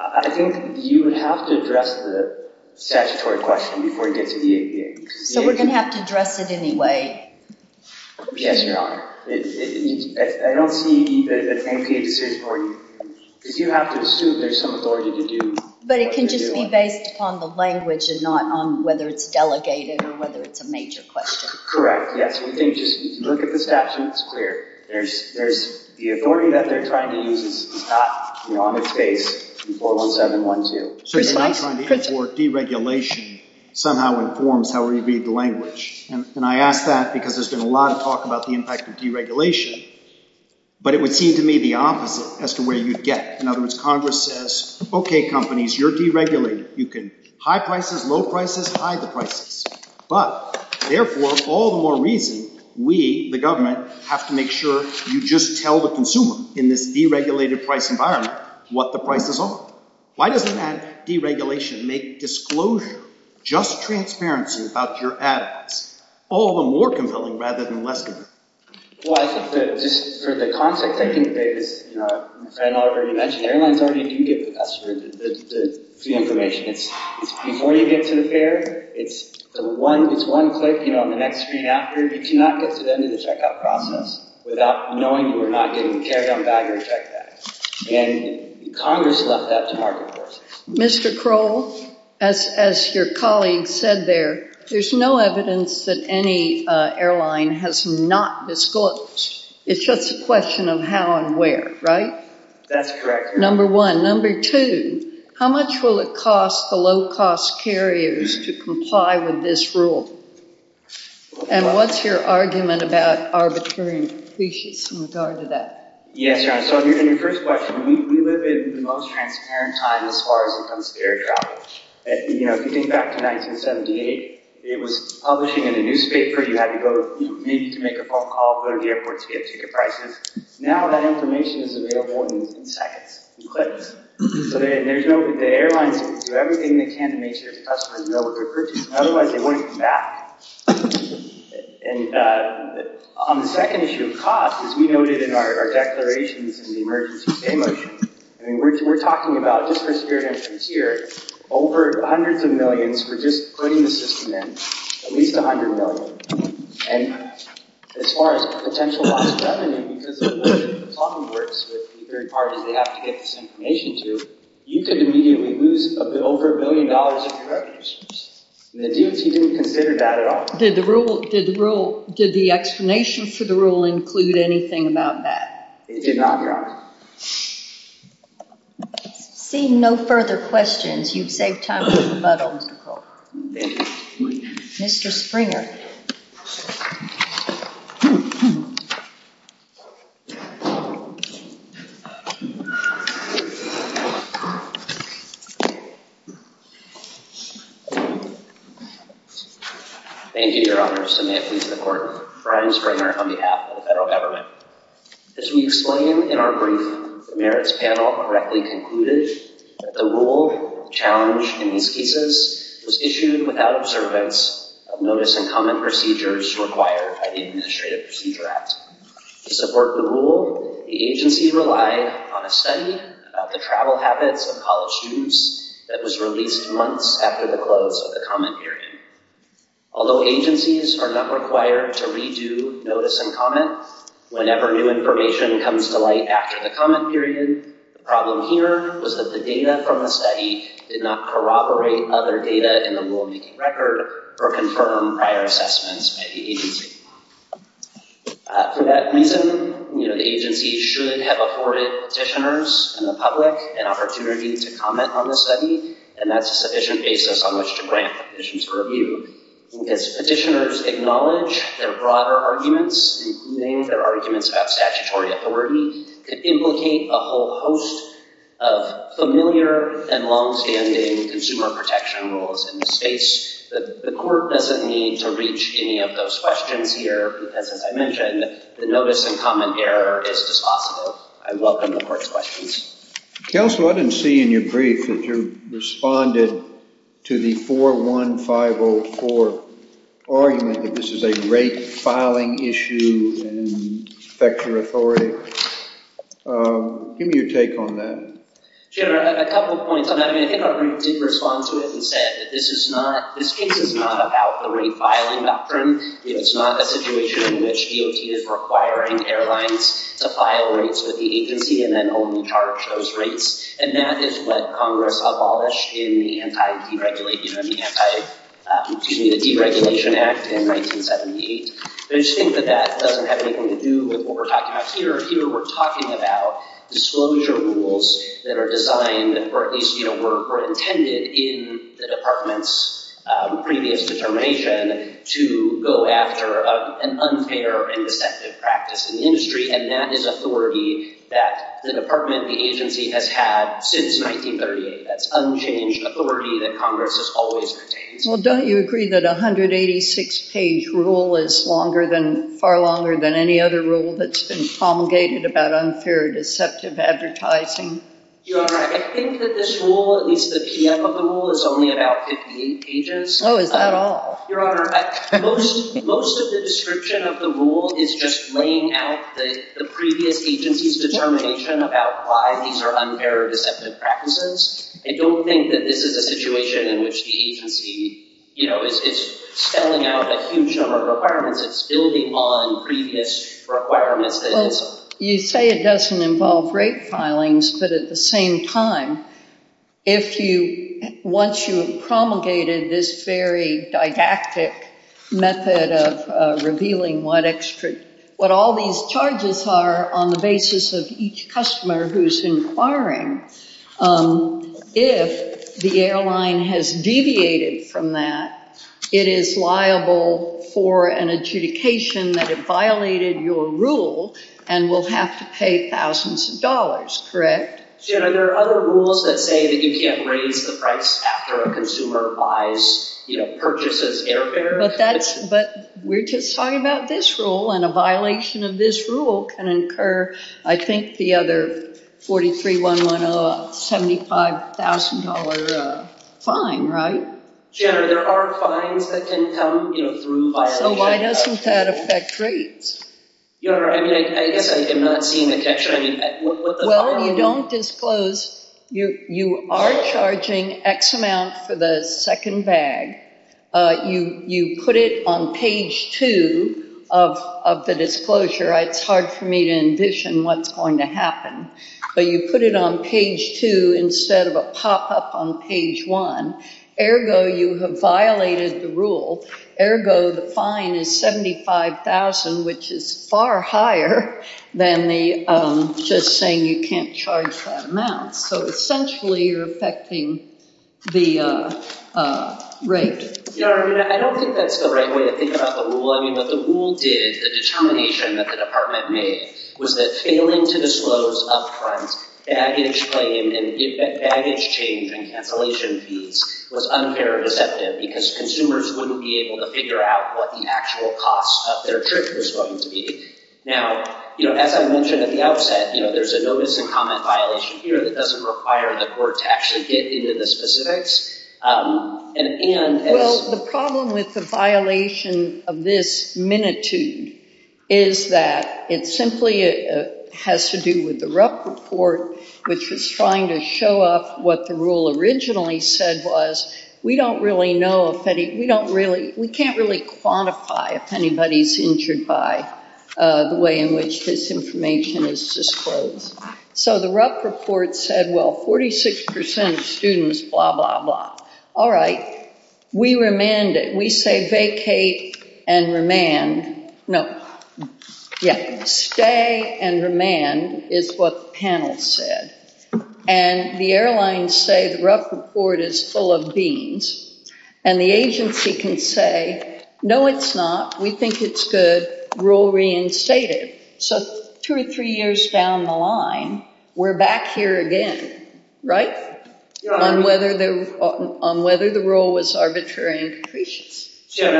I think you would have to address the statutory question before you get to the APA. So we're going to have to address it anyway? Yes, Your Honor. I don't see the APA decision for you, because you have to assume there's some authority to do it. But it can just be based upon the language and not on whether it's delegated or whether it's a major question. Correct, yes. If you just look at the statute, it's clear. There's the authority that they're trying to use in APA, you know, on this case, in 41710. So it's not trying to implore deregulation somehow informs how we read the language. And I ask that because there's been a lot of talk about the impact of deregulation, but it would seem to me the opposite as to where you'd get. In other words, Congress says, okay, companies, you're deregulated. You can high prices, low prices, high the prices. But, therefore, all the more reason we, the government, have to make sure you just tell the consumer in this deregulated price environment what the prices are. Why doesn't that deregulation make disclosure, just transparency about your assets all the more compelling rather than less compelling? Well, I think that this, for the context that you gave us, as I already mentioned, airlines already do give us the information. It's before you get to the fare. It's the one click, you know, on the next screen after. You cannot get to the end of the check-out process without knowing you were not getting a carry-on baggage check back. And Congress left that to our request. Mr. Kroll, as your colleague said there, there's no evidence that any airline has not disclosed. It's just a question of how and where, right? That's correct. Number one. Number two, how much will it cost for low-cost carriers to comply with this rule? And what's your argument about arbitrary increases in regard to that? Yes, so your first question, we live in the most transparent time as far as it comes to air travel. You know, getting back to 1978, it was published in the newspaper. You had to go, you needed to make a phone call to go to the airport to get a ticket price. Now that information is available in the second clip. So there's no, the airline is going to do everything they can to make sure the customers know what they're purchasing, otherwise they're going to come back. And on the second issue of cost, as we noted in our declaration in the emergency pay motion, we're talking about, just this year, over hundreds of millions for just putting the system in, at least $100,000. And as far as the potential loss of revenue, because of the talking birds with third parties they have to get this information to, you could immediately lose a little over a billion dollars in corrections. And the DMT didn't consider that at all. Did the rule, did the rule, did the explanation for the rule include anything about that? It did not, Your Honor. Seeing no further questions, you've saved time for the muddle. Thank you. Mr. Springer. Thank you, Your Honor. Samantha Lee McCord, Brian Springer on behalf of the federal government. As we explained in our brief, the merits panel correctly concluded that the rule challenged in these cases was issued without observance of notice and comment procedures required by the Administrative Procedure Act. To support the rule, the agency relied on a study about the travel habits of college students that was released months after the close of the comment period. Although agencies are not required to redo notice and comment, whenever new information comes to light after the comment period, the problem here was that the data from the study did not corroborate other data in the rulemaking record or confirm prior assessments by the agency. For that reason, the agency should have afforded petitioners and the public an opportunity to comment on the study, and that's sufficient basis on which to grant petitions for review. Petitioners acknowledge that broader arguments, including their arguments about statutory authority, could implicate a whole host of familiar and longstanding consumer protection rules. In this case, the court doesn't need to reach any of those questions here because, as I mentioned, the notice and comment error is disposable. I welcome the court's questions. Counsel, I didn't see in your brief that you responded to the 41504 argument that this is a rate-filing issue and affects your authority. Give me your take on that. Jim, I have a couple points on that. I think our brief did respond to it and said that this case is not about the rate-filing doctrine. It's not a situation in which DOT is requiring airlines to file rates with the agency and then only charge those rates, and that is what Congress abolished in the Anti-Deregulation Act in 1978. I just think that that doesn't have anything to do with what we're talking about here. Here, we're talking about disclosure rules that are designed, or at least were intended, in the Department's previous determination to go after an unfair and defensive practice in the industry, and that is authority that the Department and the agency have had since 1938. That's unchanged authority that Congress has always retained. Well, don't you agree that a 186-page rule is far longer than any other rule that's been promulgated about unfair or deceptive advertising? Your Honor, I think that this rule, at least the GM of the rule, is only about 58 pages. Oh, is that all? Your Honor, most of the description of the rule is just laying out the previous agency's determination about why these are unfair or deceptive practices. I don't think that this is a situation in which the agency, you know, is spelling out a huge amount of requirements. It's building on previous requirements. You say it doesn't involve rate filings, but at the same time, once you've promulgated this very didactic method of revealing what all these charges are on the basis of each customer who's inquiring, if the airline has deviated from that, it is liable for an adjudication that it violated your rule and will have to pay thousands of dollars, correct? Your Honor, there are other rules that say that you can't raise the price after a consumer buys, you know, purchases airfare. But we're just talking about this rule, and a violation of this rule can incur, I think, the other 43-110, a $75,000 fine, right? Your Honor, there are fines that can come, you know, through buying. So why doesn't that affect rates? Your Honor, I'm not saying that that should affect rates. Well, you don't disclose. You are charging X amount for the second bag. You put it on page two of the disclosure. It's hard for me to envision what's going to happen. But you put it on page two instead of a pop-up on page one. Ergo, you have violated the rule. Ergo, the fine is $75,000, which is far higher than just saying you can't charge that amount. So essentially, you're affecting the rate. Your Honor, I don't think that's the right way to think about the rule. I mean, what the rule did, the determination that the Department made, was that failing to disclose upfront baggage claim and baggage change and cancellation fees was unparagraphed because consumers wouldn't be able to figure out what the actual cost of their trip was going to be. Now, as I mentioned at the outset, there's a notice and comment violation here that doesn't require the court to actually get into the specifics. Well, the problem with the violation of this minitude is that it simply has to do with the RUP report, which was trying to show up what the rule originally said was, we don't really know if anybody, we can't really quantify if anybody's injured by the way in which this information is disclosed. So the RUP report said, well, 46% of students, blah, blah, blah. All right. We remanded. We say vacate and remand. No. Yeah. Stay and remand is what the panel said. And the airlines say the RUP report is full of beans. And the agency can say, no, it's not. We think it's good. Rule reinstated. So two or three years down the line, we're back here again. On whether the rule was arbitrary and appreciated. Because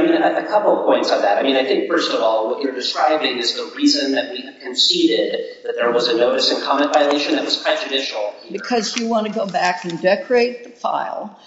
you want to go back and decorate the file,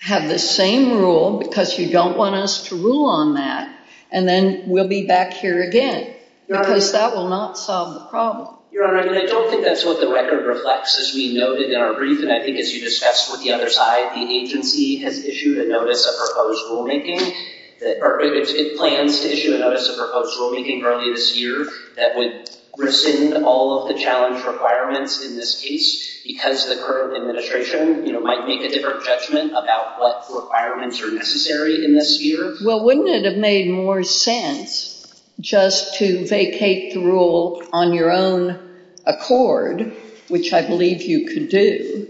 have the same rule, because you don't want us to rule on that, and then we'll be back here again, because that will not solve the problem. That's what the record reflects. As we noted in our brief, and I think as you discussed with the other side, the agency has issued a notice of proposed rulemaking. It plans to issue a notice of proposed rulemaking early this year that would rescind all of the challenge requirements in this case because the current administration might make a different judgment about what requirements are necessary in this year. Well, wouldn't it have made more sense just to vacate the rule on your own accord, which I believe you could do,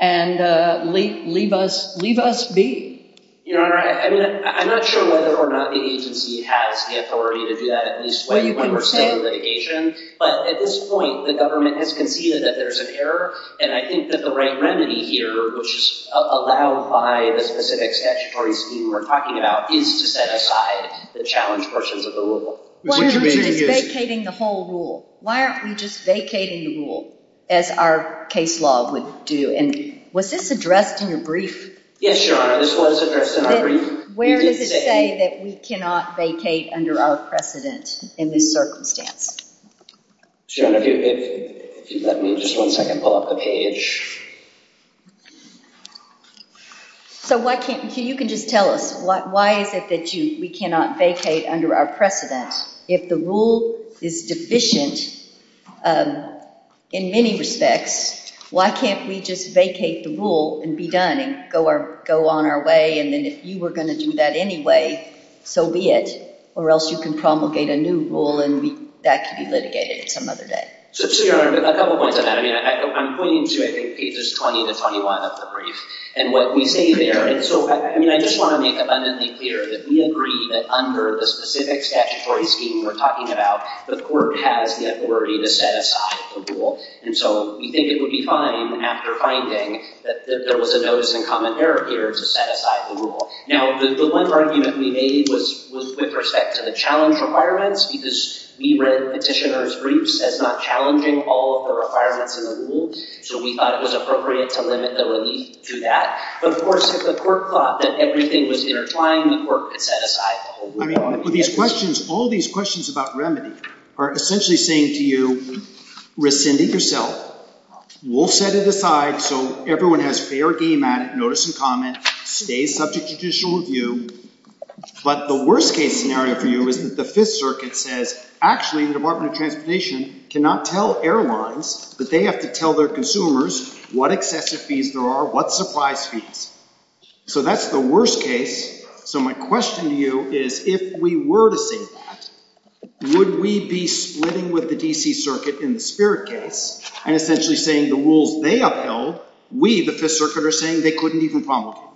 and leave us be? You're right. I'm not sure whether or not the agency has the authority to do that at this point when we're saying litigation, but at this point, the government has conceded that there's an error, and I think that the right remedy here, which is allowed by the specific statutory scheme we're talking about, is to set aside the challenge portions of the rule. Why aren't we just vacating the whole rule? Why aren't we just vacating the rule as our case law would do? Was this addressed in your brief? Yes, Your Honor. This was addressed in our brief. Where does it say that we cannot vacate under our precedent in this circumstance? Genevieve, if you'd let me just one second pull up the page. So you can just tell us. Why is it that we cannot vacate under our precedent? If the rule is deficient in many respects, why can't we just vacate the rule and be done and go on our way, and if you were going to do that anyway, so be it, or else you can promulgate a new rule and that can be litigated some other day. So, Your Honor, I'm pointing to, I think, pages 20 and 21 of the brief, and what we see there, so I just want to make abundantly clear that we agree that under the specific statutory scheme we're talking about, the court has the authority to set aside the rule, and so we think it would be fine after finding that there was a notice in common error here to set aside the rule. Now, the one argument we made was with respect to the challenge requirements because we read the petitioner's brief that's not challenging all of the requirements in the rule, so we thought it was appropriate to limit the need to that. But of course, if the court thought that everything was there, fine, the court could set aside the whole rule. All these questions about remedy are essentially saying to you, rescind it yourself, we'll set it aside so everyone has fair game at it, notice in common, stay subject to judicial review, but the worst case scenario for you is that the Fifth Circuit says, actually, the Department of Transportation cannot tell airlines that they have to tell their consumers what excessive fees there are, what supply to. So that's the worst case, so my question to you is, if we were to think that, would we be splitting with the D.C. Circuit in the Spirit case and essentially saying the rules they upheld, we, the Fifth Circuit, are saying they couldn't even follow?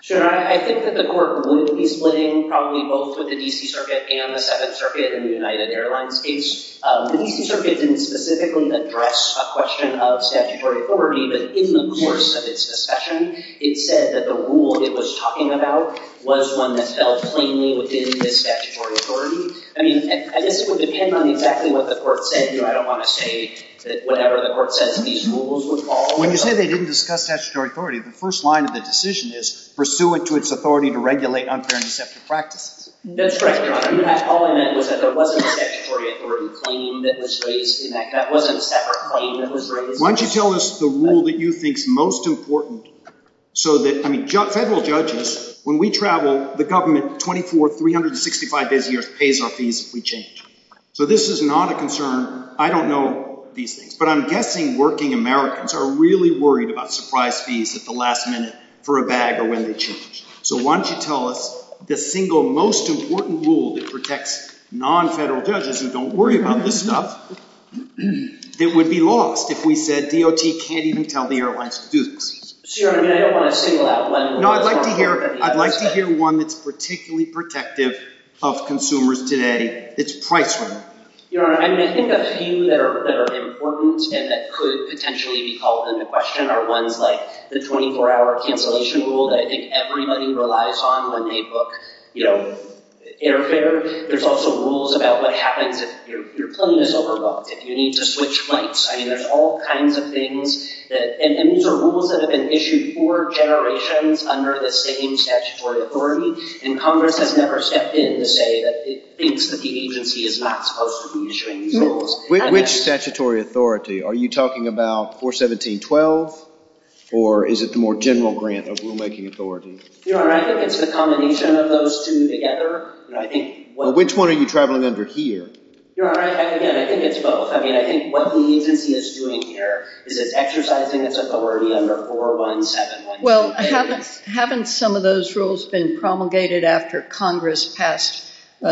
Sure, I think that the court would be splitting probably both with the D.C. Circuit and the Seventh Circuit in the United Airlines case. The D.C. Circuit didn't specifically address a question of statutory authority, but in the course of its discussion, it said that the rule it was talking about was one that fell plainly within its statutory authority. I mean, I guess it would depend on exactly what the court said here, I don't want to say that whatever the court said to these rules would fall. When you say they didn't discuss statutory authority, the first line of the decision is, pursue it to its authority to regulate unfair and deceptive practice. That's correct, Your Honor. All I meant was that there wasn't a statutory authority claim that was raised in that. That wasn't a separate claim that was raised. But why don't you tell us the rule that you think is most important so that, I mean, federal judges, when we travel, the government 24, 365 days a year pays our fees if we change. So this is not a concern. I don't know these things, but I'm guessing working Americans are really worried about surprise fees at the last minute for a bag or when they change. So why don't you tell us the single most important rule that protects non-federal judges, and don't worry about this enough, it would be lost if we said DOT can't even tell the airlines boots. Your Honor, I didn't want to single out one. No, I'd like to hear, I'd like to hear one that's particularly protective of consumers today. It's price one. Your Honor, I mean, I think a few that are important and that could potentially be called into question are ones like the 24-hour cancellation rule that I think everybody relies on when they book, you know, airfares. There's also rules about what happens if you need to switch flights. I mean, there's all kinds of things that, and these are rules that have been issued for generations under the same statutory authority, and Congress has never stepped in to say that it thinks that the agency is not supposed to be issuing these rules. Which statutory authority? Are you talking about 417.12, or is it the more general grant of rulemaking authority? Your Honor, I think it's a combination of those two together. Which one are you traveling under here? Your Honor, again, I think it's both. I mean, I think what the agency is doing here is it's exercising its authority under 417.12. Well, haven't some of those rules been promulgated after Congress passed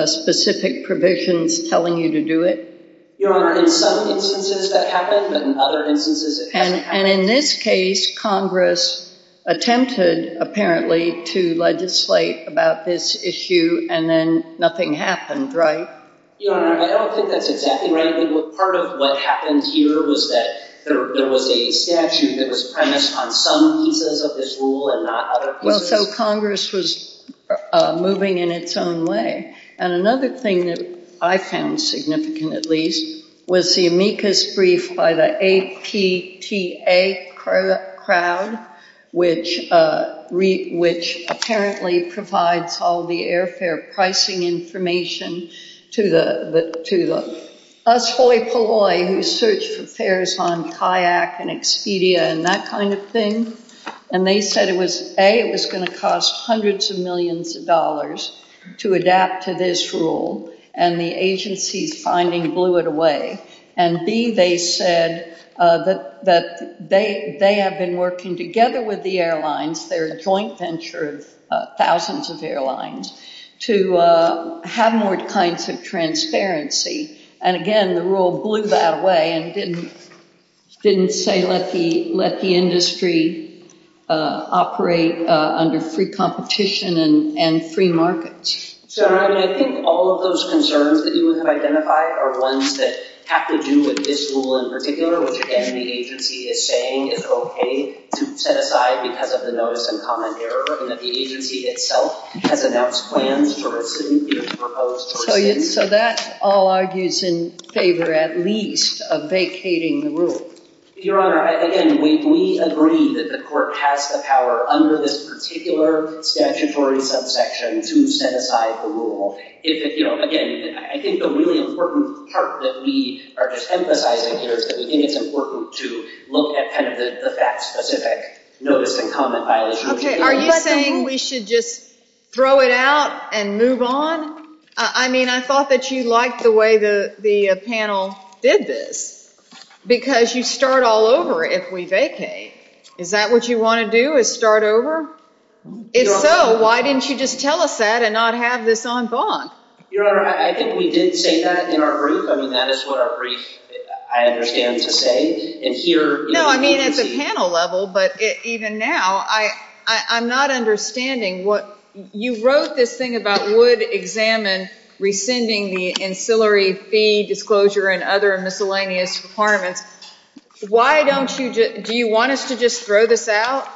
specific provisions telling you to do it? Your Honor, in some instances it's happened, but in other instances it hasn't. And in this case, Congress attempted, apparently, to legislate about this issue, and then nothing happened, right? Your Honor, I don't think that's a definite thing. Part of what happened here was that there was a statute that was premised on some pieces of this rule, and not other pieces. Well, so Congress was moving in its own way. And another thing that I found significant, at least, was the amicus brief by the APTA crowd, which apparently provides all the airfare pricing information to the us-hoi-poi who search for pairs on kayak and Expedia and that kind of thing. And they said it was, A, it was going to cost hundreds of millions of dollars to adapt to this rule, and the agency finding blew it away. And B, they said that they have been working together with the airlines, their joint venture of thousands of airlines, to have more kinds of transparency. And again, the rule blew that away and didn't say let the industry operate under free competition and free market. Your Honor, I think all of those concerns that you have identified are ones that have to do with this rule in particular, which again, the agency is saying is okay to set aside because of the notice and comment error that the agency itself has announced plans for a student being proposed. So that all argues in favor, at least, of vacating the rule. Your Honor, again, we agree that the court has the power under this particular statutory subsection to set aside the rule. Again, I think the most important part that we are just emphasizing here is that we think it's important to look at benefits of that specific notice and comment violation. Okay, are you saying we should just throw it out and move on? I mean, I thought that you liked the way the panel did this because you start all over if we vacate. Is that what you want to do, is start over? If so, why didn't you just tell us that and not have this on bond? Your Honor, I think we did say that in our brief. I mean, that is what our brief, I understand, is to say. No, I mean, at the panel level, but even now, I'm not understanding. You wrote this thing about would examine rescinding the ancillary fee disclosure and other miscellaneous requirements. Why don't you just, do you want us to just throw this out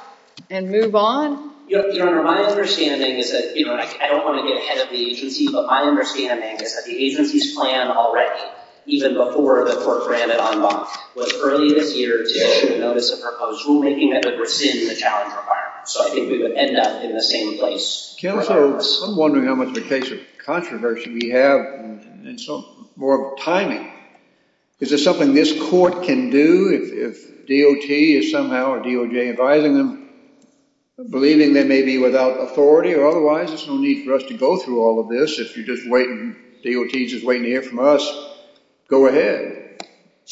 and move on? Your Honor, my understanding is that I don't want to get ahead of the agency, but my understanding is that the agency's plan already, even before the court granted it on bond, was earlier this year, today, with notice of proposed rulemaking that would rescind the challenge requirement. So, I think we could end that in the same place. Your Honor, I'm wondering how much of a case of controversy we have and more of a timing. Is there something this court can do if DOT is somehow, or DOJ is advising them, believing they may be without authority? Otherwise, there's no need for us to go through all of this. If you're just waiting, DOT's just waiting to hear from us, go ahead.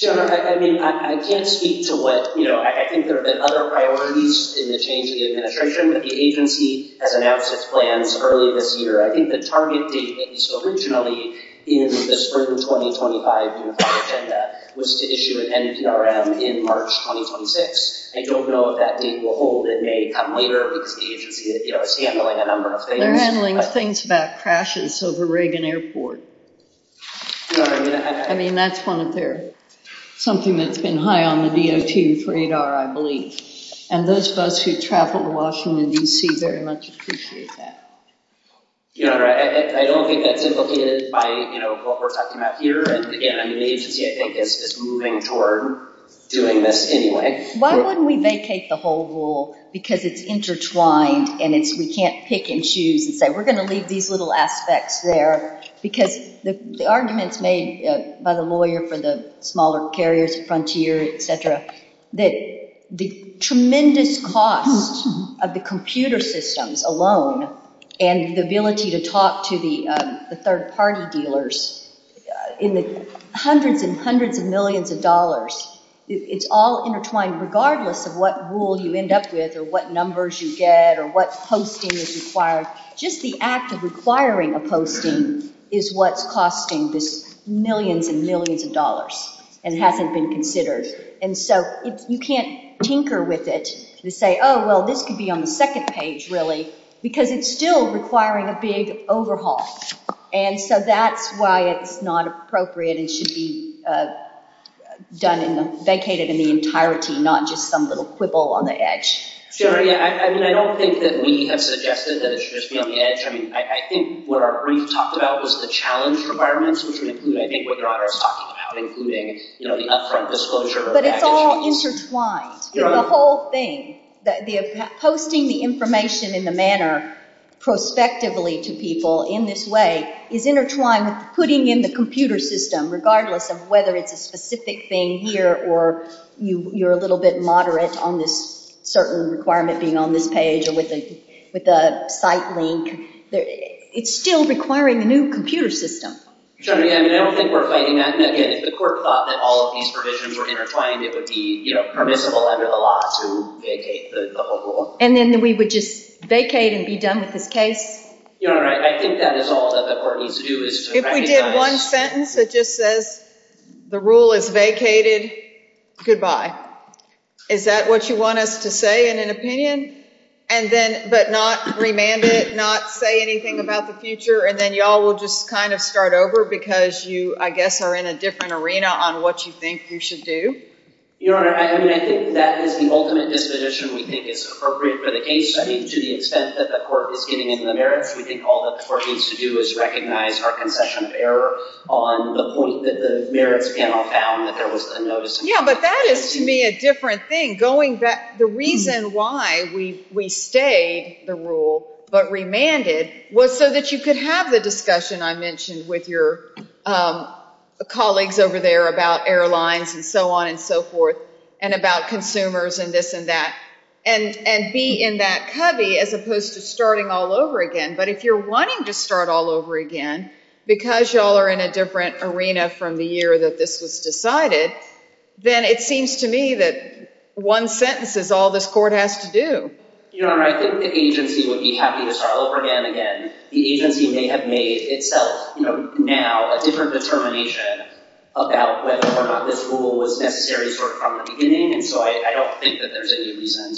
Your Honor, I mean, I can't speak to what, you know, I think there have been other priorities in the change of administration that the agency has announced its plans earlier this year. I think the target case, originally, in the spring of 2025, was to issue an NDRM in March of 2026. I don't know if that legal hold that may come later because the agency is handling a number of things. They're handling things about crashes over Reagan Airport. Your Honor, I mean, that's one of their, something that's been high on the DOT's radar I believe. And those folks who travel to Washington, D.C., very much appreciate that. Your Honor, I don't think that's what it is by, you know, what we're talking about here. And again, the agency, I think, is just moving toward doing this anyway. Why wouldn't we vacate the whole rule because it's intertwined and it's, we can't pick and choose and say, we're going to leave these little aspects there because the arguments made by the lawyer for the smaller carriers, frontier, et cetera, that the tremendous cost of the computer systems alone and the ability to talk to the third party dealers in the hundreds and hundreds of millions of dollars, it's all intertwined regardless of what rule you end up with or what numbers you get or what posting is required. Just the act of requiring a posting is what's costing these millions and millions of dollars and hasn't been considered. And so, you can't tinker with it to say, oh, well, this could be on the second page, really, because it's still requiring a big overhaul. And so, that's why it's not appropriate and should be done and vacated in the entirety, not just some little quibble on the edge. Jerry, I don't think that we have suggested that it should just be on the edge. I mean, I think what our group talked about was the challenge requirements which include, I think, the upfront disclosure. But it's all intertwined. It's a whole thing. Posting the information in the manner prospectively to people in this way is intertwined with putting in the computer system regardless of whether it's a specific thing here or you're a little bit moderate on this certain requirement being on this page or with the site link. It's still requiring a new computer system. Sure, and I don't think we're talking the court thought that all of these provisions were intertwined. It would be permissible under the law to vacate the whole rule. And then we would just vacate and be done with this case? Yeah, I think that is all that the court needs to do. If we did one sentence that just says the rule is vacated, goodbye. Is that what you want us to say in an opinion? And then, but not remand it, not say anything about the future, and then y'all will just kind of start over because you, I guess, are in a different arena on what you think you should do. Your Honor, I do think that is the ultimate disposition we think is appropriate for the case. I mean, to the extent that the court was getting into the merits, we think all that the court needs to do is recognize our confession of error on the point that the merits panel found that there was a notice. Yeah, but that is, to me, a different thing. Going back, the reason why we stay the rule but remand it was so that you could have the discussion I mentioned with your colleagues over there about airlines and so on and so forth and about consumers and this and that and be in that cubby as opposed to starting all over again. But if you're wanting to start all over again because y'all are in a different arena from the year that this was decided, then it seems to me that one sentence is all this court has to do. Your Honor, I don't think that the agency would be happy to start all over again again. The agency may have made itself, now, a different determination about whether or not this rule was necessary for a conversation and so I don't think that there's any reason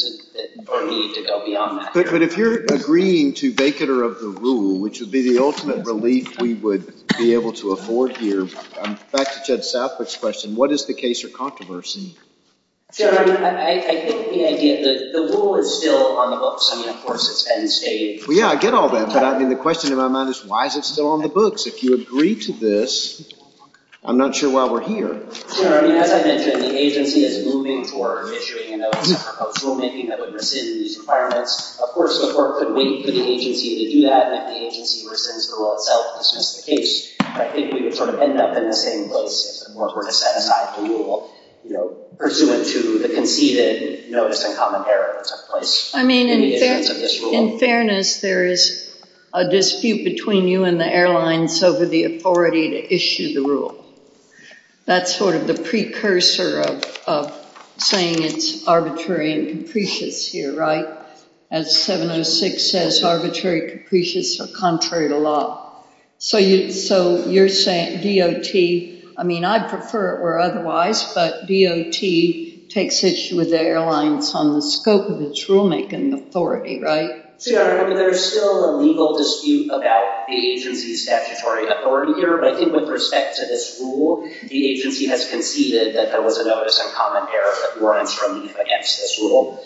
for me to go beyond that. But if you're agreeing to baconer of the rule which would be the ultimate relief we would be able to afford here, back to Jed Stafford's question, what is the case for controversy? Your Honor, I think the idea that the rule is still on the books and of course it's been stated. Well, yeah, I get all that, but I think the question in my mind is why is it still on the books? If you agree to this, I'm not sure why we're here. Your Honor, as I mentioned, the agency is moving forward ensuring, you know, a rulemaking of the vicinity requirements. Of course, the court could wait for the agency to do that and if the agency rescinds the rule itself, which is the case, I think we could sort of end up in the same place if the court were to set aside the rule, you know, pursuant to the conceded notice and commentary that's in place. I mean, in fairness, there is a dispute between you and the airlines over the authority to issue the rule. That's sort of the precursor of saying it's arbitrary and capricious here, right? As 706 says, arbitrary and capricious are contrary to law. So you're saying DOT, I mean, I'd prefer it where otherwise, but DOT takes issue with the airlines on the scope of its rulemaking authority, right? Sure, but there's still a legal dispute about the agency's statutory authority here, but I think with respect to this rule, the agency has conceded that there was a notice of a comment there that warrants from the agency's rule.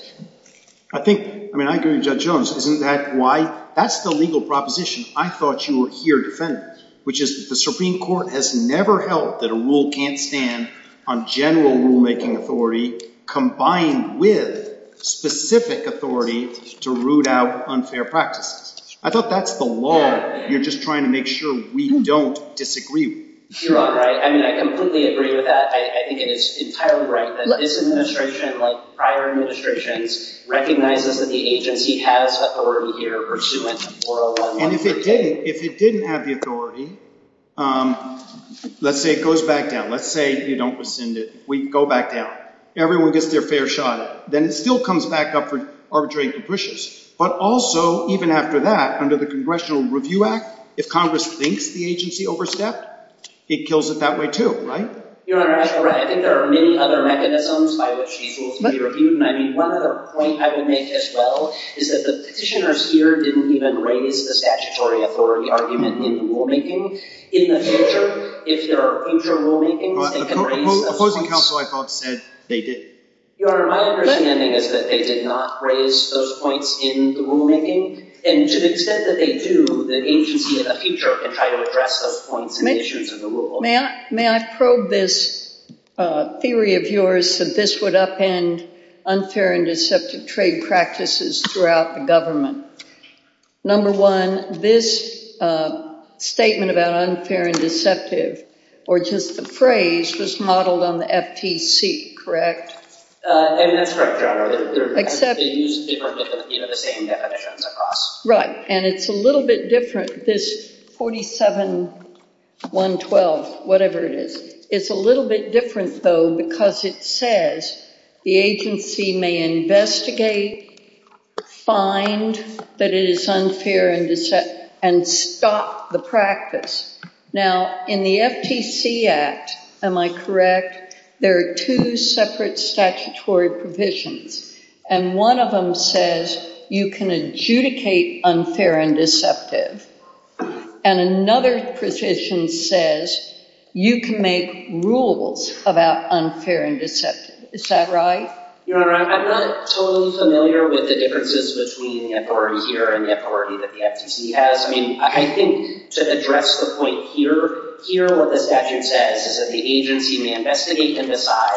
I think, I mean, I agree with Judge Jones, isn't that why? That's the legal proposition I thought you were here defending, which is the Supreme Court has never held that a rule can't stand on general rulemaking authority combined with specific authority to root out the it's entirely right that this administration like prior administrations recognize that the agency has authority here pursuant to 401k. And if it didn't, if it didn't have the let's say it goes back down, let's say you don't rescind it, we go back down, everyone gets their fair share of then it still comes back up for arbitrary capricious. But also even after that, under the Congressional Review Act, if Congress thinks the agency overstepped, it kills it that way, too, right? Your Honor, I think there are many other mechanisms by which she will intervene. I mean, one other point I would make as well is that the petitioners here didn't even raise the statutory authority argument in rulemaking. In the future, if there are future rulemaking, if there are future rulemaking, if there are future amendments points in rulemaking, then to the extent that they do, there may be a future for trying to address those points in issues of the rule. May I probe this theory of yours that this would upend unfair and deceptive trade practices throughout the Number One Yes. And it's a little bit different, this 47-112, whatever it is. It's a little bit different, though, because it says the agency may investigate, find that it is unfair and stop the practice. Now, in the FTC Act, am I correct, there are two separate statutory provisions, and one of them says you can adjudicate unfair and deceptive, and another provision says you can make rules about unfair and deceptive. Is that right? Your I'm not totally familiar with the differences between the authority here and the authority that the FTC has. I mean, I think to address the point here, what the statute says is that the agency may investigate and decide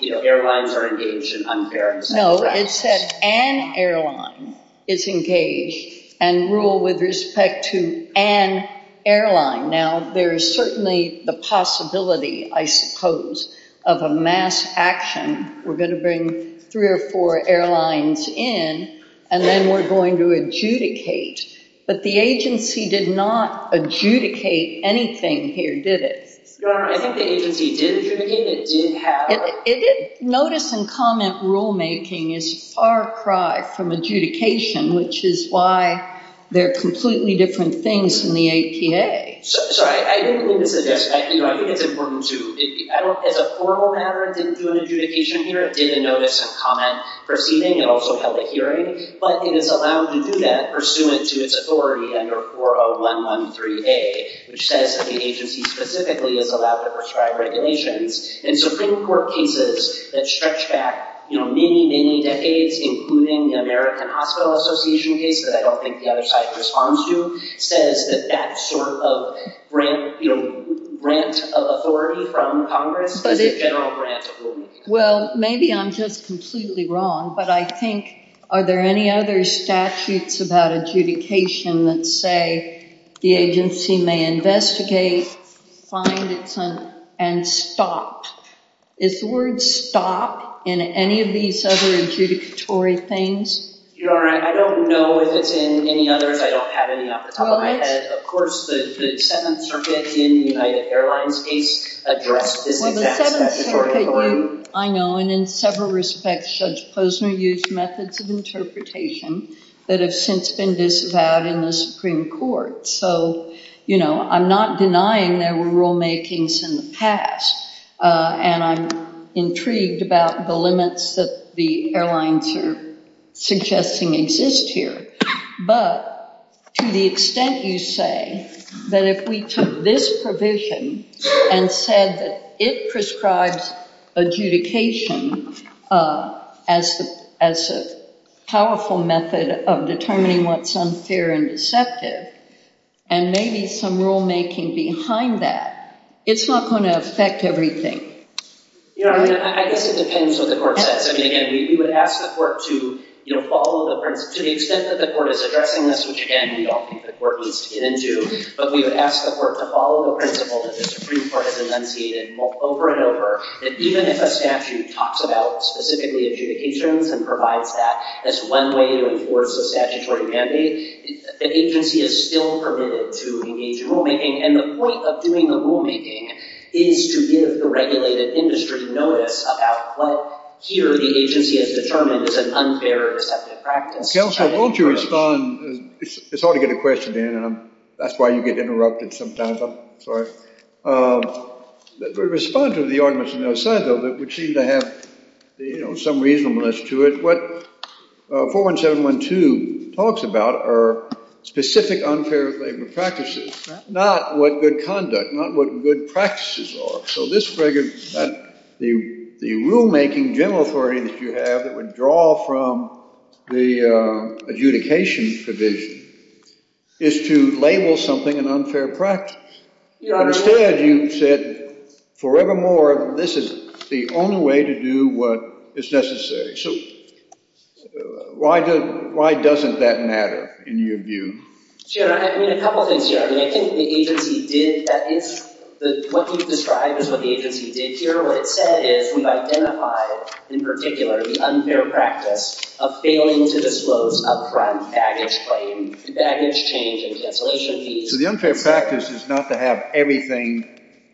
that airlines are engaged in unfair and deceptive practice. No, it says an airline is engaged and rule with respect to an airline. Now, there is certainly the possibility, I suppose, of a mass action. We're going to bring three or four airlines in, and then we're going to adjudicate. But the agency did not adjudicate anything here, did it? No, I think the agency did adjudicate. It did have Notice and Comment rule making is far cry from adjudication, which is why they're completely different things than the ATA. So, I didn't mean this as a formal matter to do an adjudication here. It did a Notice and proceeding. It also held a hearing, but it is allowed to do that pursuant to its authority under 40113A, which says that the agency specifically is allowed to prescribe regulations. And Supreme Court cases that stretch back, you many, many decades, including the American Hospital Association case, that I don't think the other side responds to, says that that sort of rent of authority from Congress is a general grant. Well, maybe I'm just completely wrong, but I think, are there any other statutes about adjudication that say the agency may investigate, find its sentence, and stop? Is the stop in any of these other adjudicatory things? Your Honor, I don't know if it's in any others. I don't have any other. Of course, the Seventh Circuit in the United Airlines case addressed it as an adjudicatory authority. I know, and in several respects, Judge Posner used methods of interpretation that have since been disavowed in the Supreme Court. So, you know, I'm not denying there were rulemakings in the and I'm intrigued about the limits that the airlines are exist here, but to the extent you say that if we took this provision and said that it prescribes adjudication as a powerful method of determining what's unfair and deceptive, and maybe some rulemaking behind that, it's not going to affect everything. Your Honor, I think it depends on the court. You would ask the court to follow the to the extent that the court is addressing the issue. We have asked the court to follow the principle that the Supreme Court has enunciated over and over, that even if a statute talks about specifically adjudication and provides that as one way to enforce a statutory mandate, the agency is still permitted to engage in rulemaking, and the point of doing the rulemaking is to give the regulated industry notice about what the agency has determined is an unfair and deceptive practice. It's hard to get a question in, and that's why you get a lot of the unfair practice is not to everything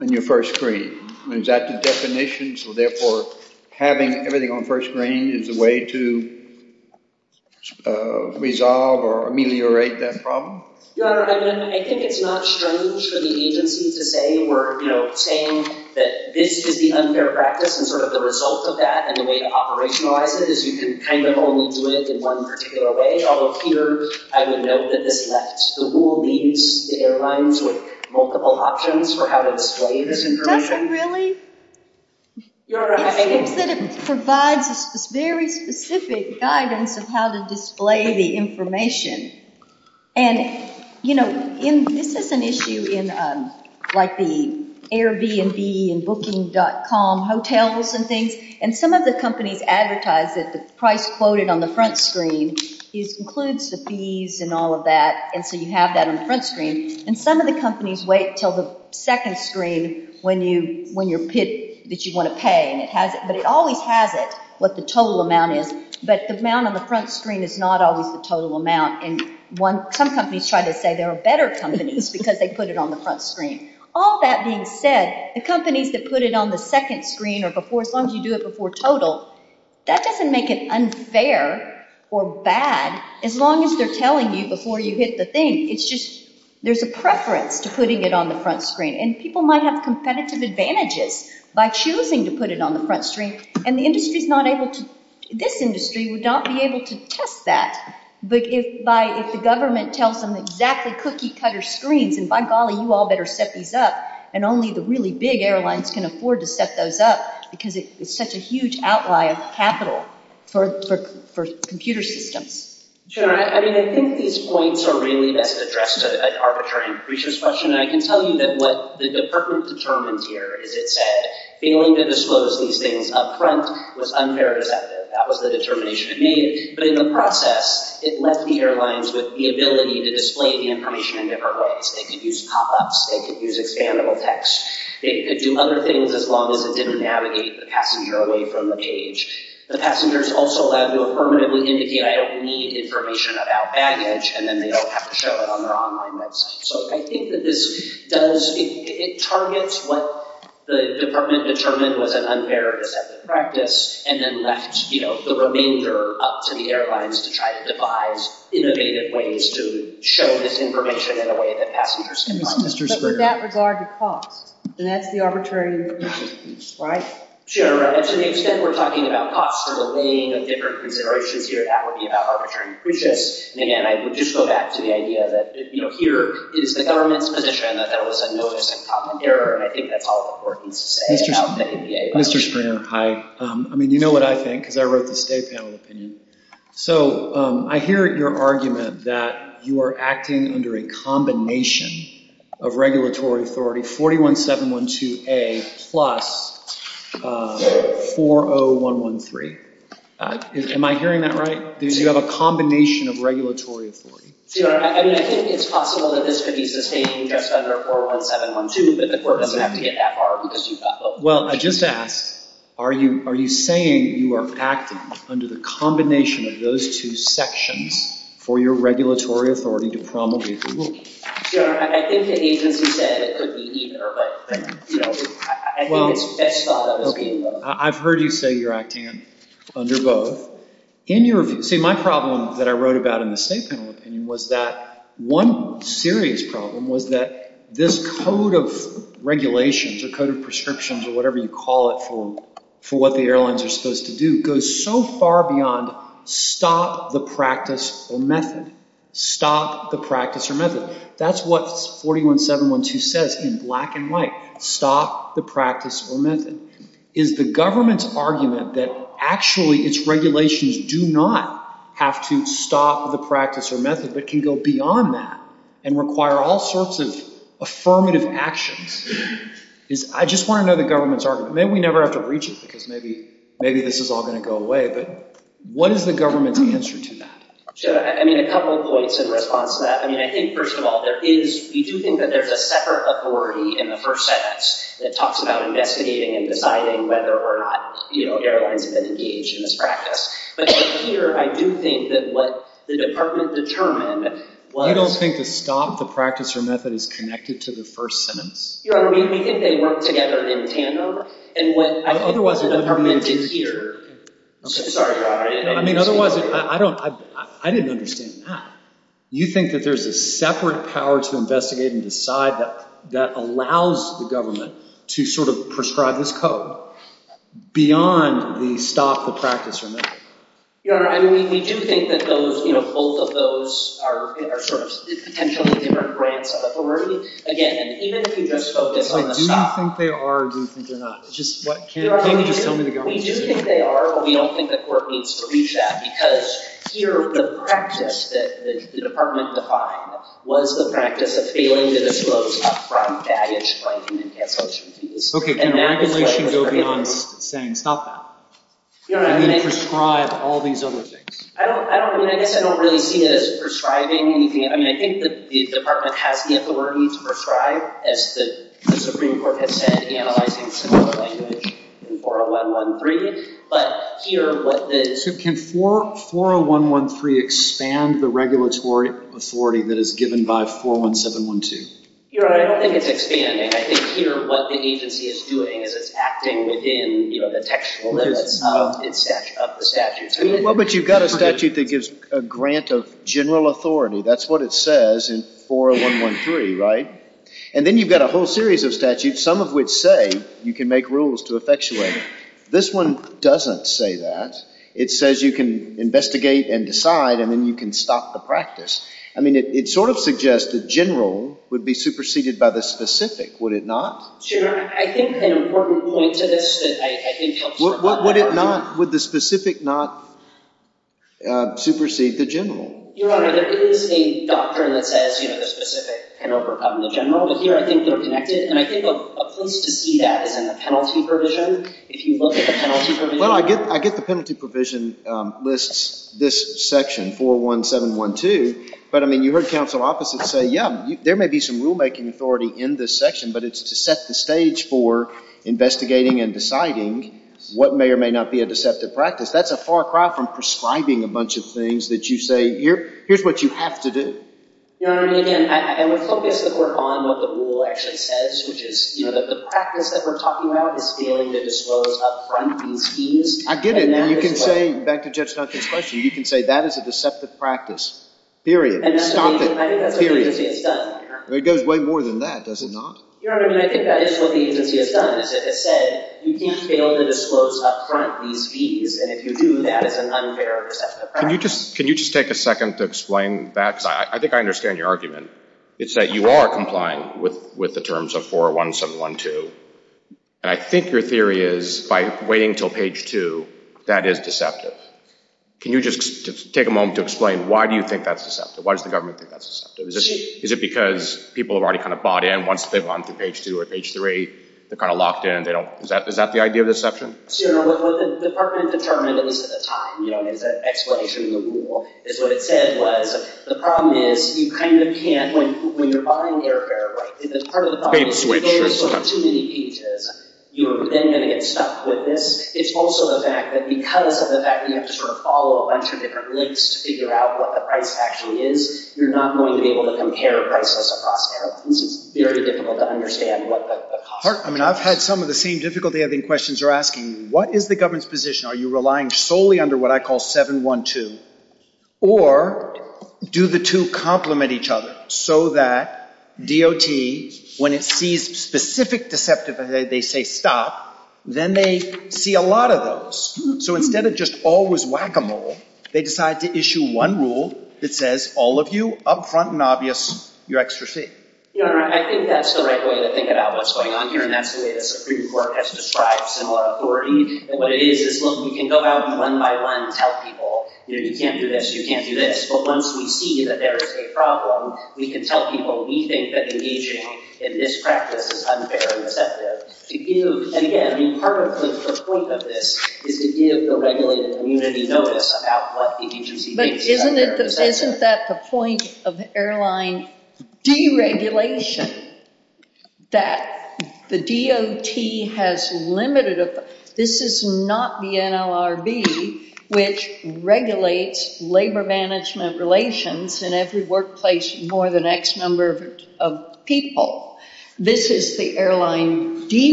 on your first screen. Is that the definition, so therefore having everything on first screen is a way to resolve or ameliorate that problem? I think it's not shown in the agency today where it's saying that this could be unfair practice, and the way to operationalize it is you can only do it in one particular way, although here I would note that the rule needs